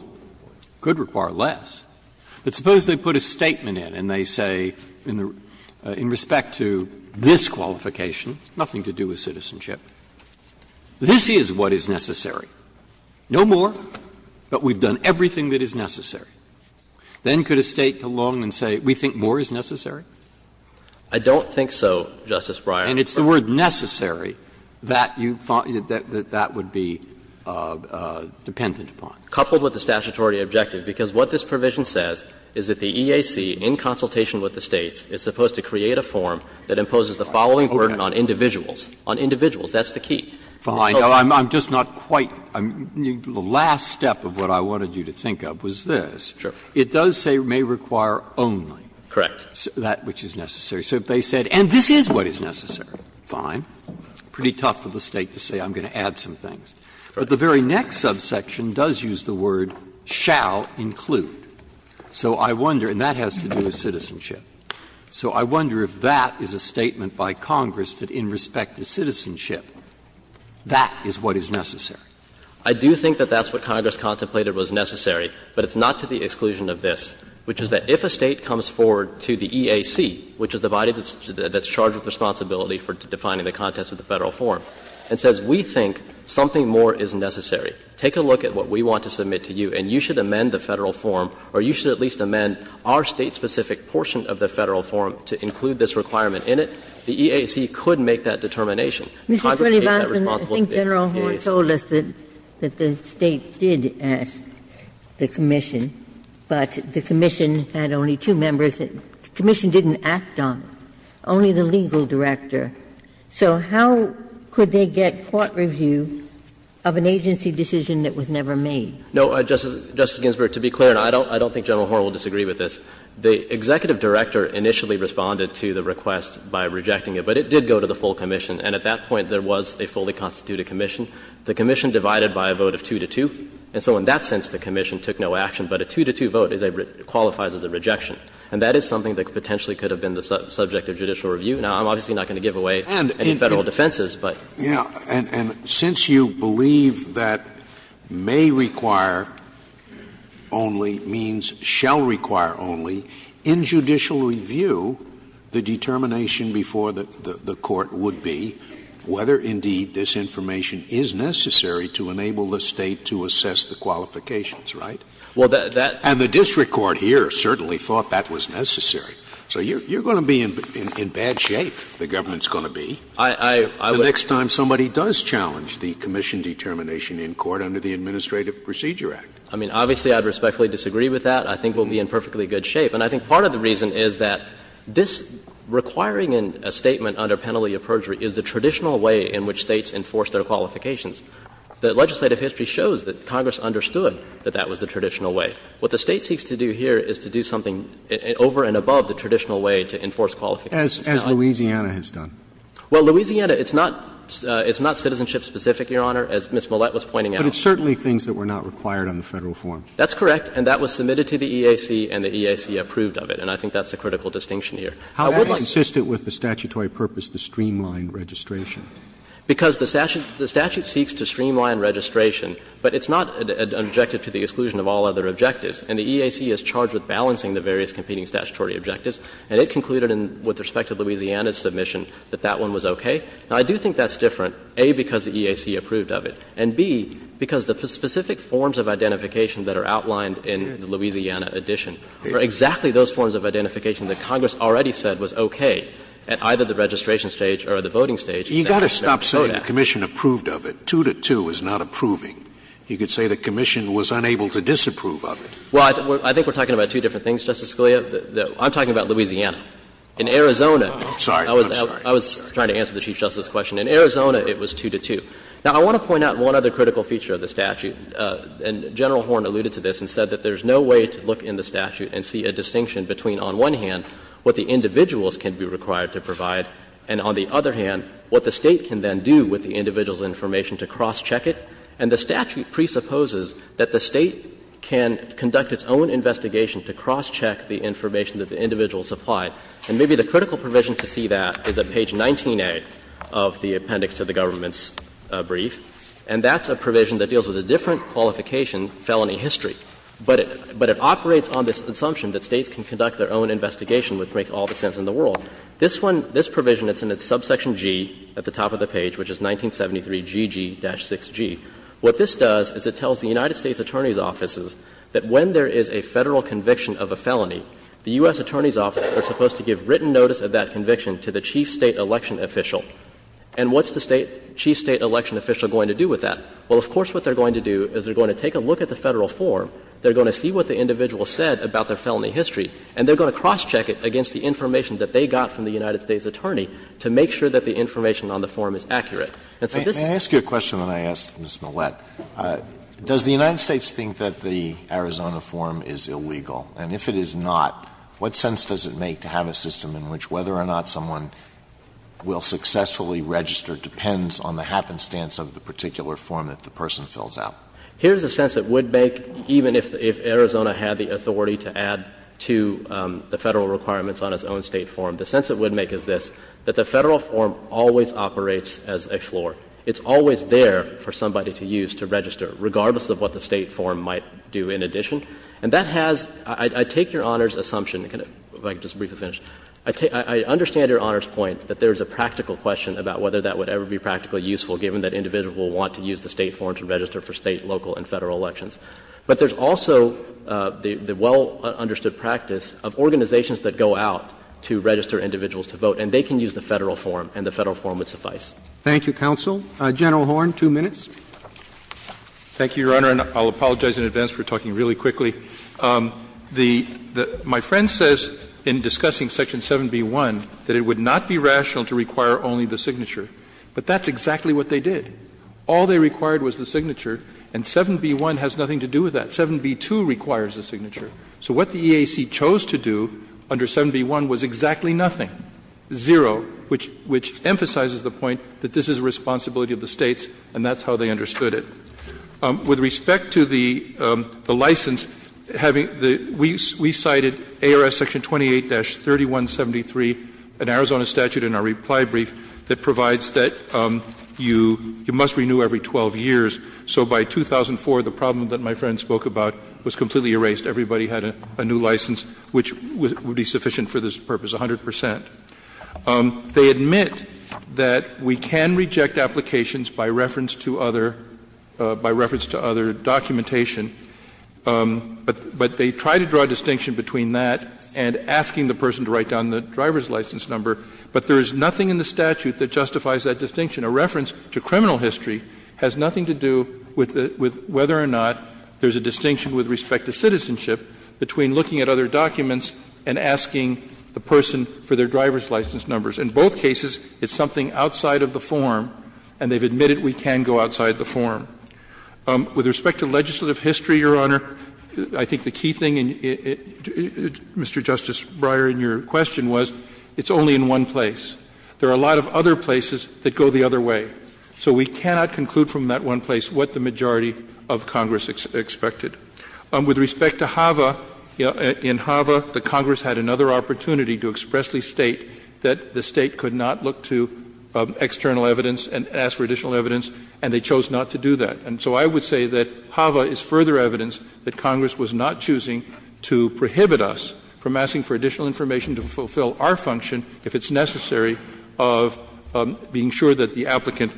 Could require less. But suppose they put a statement in and they say in the — in respect to this qualification, nothing to do with citizenship, this is what is necessary. No more, but we've done everything that is necessary. Then could a State come along and say, we think more is necessary? I don't think so, Justice Breyer. And it's the word necessary that you thought that that would be dependent upon. Coupled with the statutory objective, because what this provision says is that the EAC, in consultation with the States, is supposed to create a form that imposes the following burden on individuals. On individuals. That's the key. Breyer. Now, I'm just not quite — the last step of what I wanted you to think of was this. Sure. It does say may require only. Correct. That which is necessary. So if they said, and this is what is necessary, fine. Pretty tough for the State to say, I'm going to add some things. But the very next subsection does use the word shall include. So I wonder, and that has to do with citizenship. So I wonder if that is a statement by Congress that in respect to citizenship, that is what is necessary. I do think that that's what Congress contemplated was necessary, but it's not to the exclusion of this, which is that if a State comes forward to the EAC, which is the body that's charged with responsibility for defining the context of the Federal form, and says, we think something more is necessary, take a look at what we want to submit to you, and you should amend the Federal form, or you should at least amend the specific portion of the Federal form to include this requirement in it, the EAC could make that determination. Congress takes that responsibility to the EAC. Ginsburg. I think General Horne told us that the State did ask the commission, but the commission had only two members that the commission didn't act on, only the legal director. So how could they get court review of an agency decision that was never made? No, Justice Ginsburg, to be clear, and I don't think General Horne will disagree with this, the executive director initially responded to the request by rejecting it, but it did go to the full commission, and at that point there was a fully constituted commission. The commission divided by a vote of 2 to 2, and so in that sense the commission took no action, but a 2 to 2 vote qualifies as a rejection. And that is something that potentially could have been the subject of judicial review. Now, I'm obviously not going to give away any Federal defenses, but. Scalia. And since you believe that may require only means shall require only, in judicial review the determination before the court would be whether indeed this information is necessary to enable the State to assess the qualifications, right? And the district court here certainly thought that was necessary. So you're going to be in bad shape, the government's going to be. The next time somebody does challenge the commission determination in court under the Administrative Procedure Act. I mean, obviously I'd respectfully disagree with that. I think we'll be in perfectly good shape. And I think part of the reason is that this requiring a statement under penalty of perjury is the traditional way in which States enforce their qualifications. The legislative history shows that Congress understood that that was the traditional way. What the State seeks to do here is to do something over and above the traditional way to enforce qualifications. As Louisiana has done. Well, Louisiana, it's not citizenship specific, Your Honor, as Ms. Millett was pointing out. But it's certainly things that were not required on the Federal form. That's correct. And that was submitted to the EAC and the EAC approved of it. And I think that's the critical distinction here. I would like to see. How is that consistent with the statutory purpose to streamline registration? Because the statute seeks to streamline registration, but it's not an objective to the exclusion of all other objectives. And the EAC is charged with balancing the various competing statutory objectives. And it concluded with respect to Louisiana's submission that that one was okay. Now, I do think that's different, A, because the EAC approved of it, and, B, because the specific forms of identification that are outlined in the Louisiana edition are exactly those forms of identification that Congress already said was okay at either the registration stage or the voting stage. Scalia. You've got to stop saying the commission approved of it. Two to two is not approving. You could say the commission was unable to disapprove of it. Well, I think we're talking about two different things, Justice Scalia. I'm talking about Louisiana. In Arizona, I was trying to answer the Chief Justice's question. In Arizona, it was two to two. Now, I want to point out one other critical feature of the statute. And General Horne alluded to this and said that there's no way to look in the statute and see a distinction between, on one hand, what the individuals can be required to provide, and on the other hand, what the State can then do with the individual's information to cross-check it. And the statute presupposes that the State can conduct its own investigation to cross-check the information that the individuals supply. And maybe the critical provision to see that is at page 19A of the appendix to the government's brief. And that's a provision that deals with a different qualification, felony history. But it operates on this assumption that States can conduct their own investigation, which makes all the sense in the world. This one, this provision, it's in its subsection G at the top of the page, which is 1973GG-6G. What this does is it tells the United States Attorney's offices that when there is a Federal conviction of a felony, the U.S. Attorney's offices are supposed to give written notice of that conviction to the chief State election official. And what's the State chief State election official going to do with that? Well, of course what they're going to do is they're going to take a look at the Federal form. They're going to see what the individual said about their felony history, and they're going to cross-check it against the information that they got from the United States Attorney to make sure that the information on the form is accurate. And so this is the case. Alitoso, may I ask you a question that I asked Ms. Millett? Does the United States think that the Arizona form is illegal? And if it is not, what sense does it make to have a system in which whether or not someone will successfully register depends on the happenstance of the particular form that the person fills out? Here's the sense it would make even if Arizona had the authority to add to the Federal requirements on its own State form. The sense it would make is this, that the Federal form always operates as a floor. It's always there for somebody to use to register, regardless of what the State form might do in addition. And that has — I take Your Honor's assumption — if I could just briefly finish. I understand Your Honor's point that there is a practical question about whether that would ever be practically useful, given that individuals will want to use the State form to register for State, local and Federal elections. But there's also the well-understood practice of organizations that go out to register individuals to vote, and they can use the Federal form, and the Federal form would suffice. Thank you, counsel. General Horne, two minutes. Thank you, Your Honor, and I'll apologize in advance for talking really quickly. The — my friend says in discussing Section 7b1 that it would not be rational to require only the signature, but that's exactly what they did. All they required was the signature, and 7b1 has nothing to do with that. 7b2 requires the signature. So what the EAC chose to do under 7b1 was exactly nothing, zero, which emphasizes the point that this is a responsibility of the States, and that's how they understood it. With respect to the license, having the — we cited ARS Section 28-3173, an Arizona statute in our reply brief, that provides that you must renew every 12 years. So by 2004, the problem that my friend spoke about was completely erased. Everybody had a new license, which would be sufficient for this purpose, 100 percent. They admit that we can reject applications by reference to other — by reference to other documentation, but they try to draw a distinction between that and asking the person to write down the driver's license number. But there is nothing in the statute that justifies that distinction. A reference to criminal history has nothing to do with whether or not there's a distinction with respect to citizenship between looking at other documents and asking the person for their driver's license numbers. In both cases, it's something outside of the form, and they've admitted we can go outside the form. With respect to legislative history, Your Honor, I think the key thing, Mr. Justice Breyer, in your question was it's only in one place. There are a lot of other places that go the other way. So we cannot conclude from that one place what the majority of Congress expected. With respect to HAVA, in HAVA, the Congress had another opportunity to expressly state that the State could not look to external evidence and ask for additional evidence, and they chose not to do that. And so I would say that HAVA is further evidence that Congress was not choosing to prohibit us from asking for additional information to fulfill our function if it's necessary of being sure that the applicant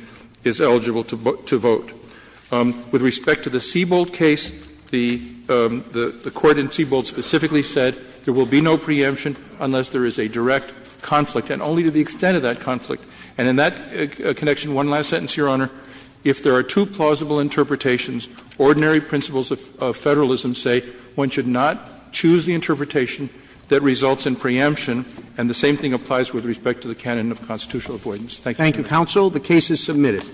is eligible to vote. With respect to the Seibold case, the Court in Seibold specifically said there will be no preemption unless there is a direct conflict, and only to the extent of that conflict. And in that connection, one last sentence, Your Honor. If there are two plausible interpretations, ordinary principles of federalism say one should not choose the interpretation that results in preemption, and the same thing applies with respect to the canon of constitutional avoidance. Thank you, Your Honor. Counsel, the case is submitted.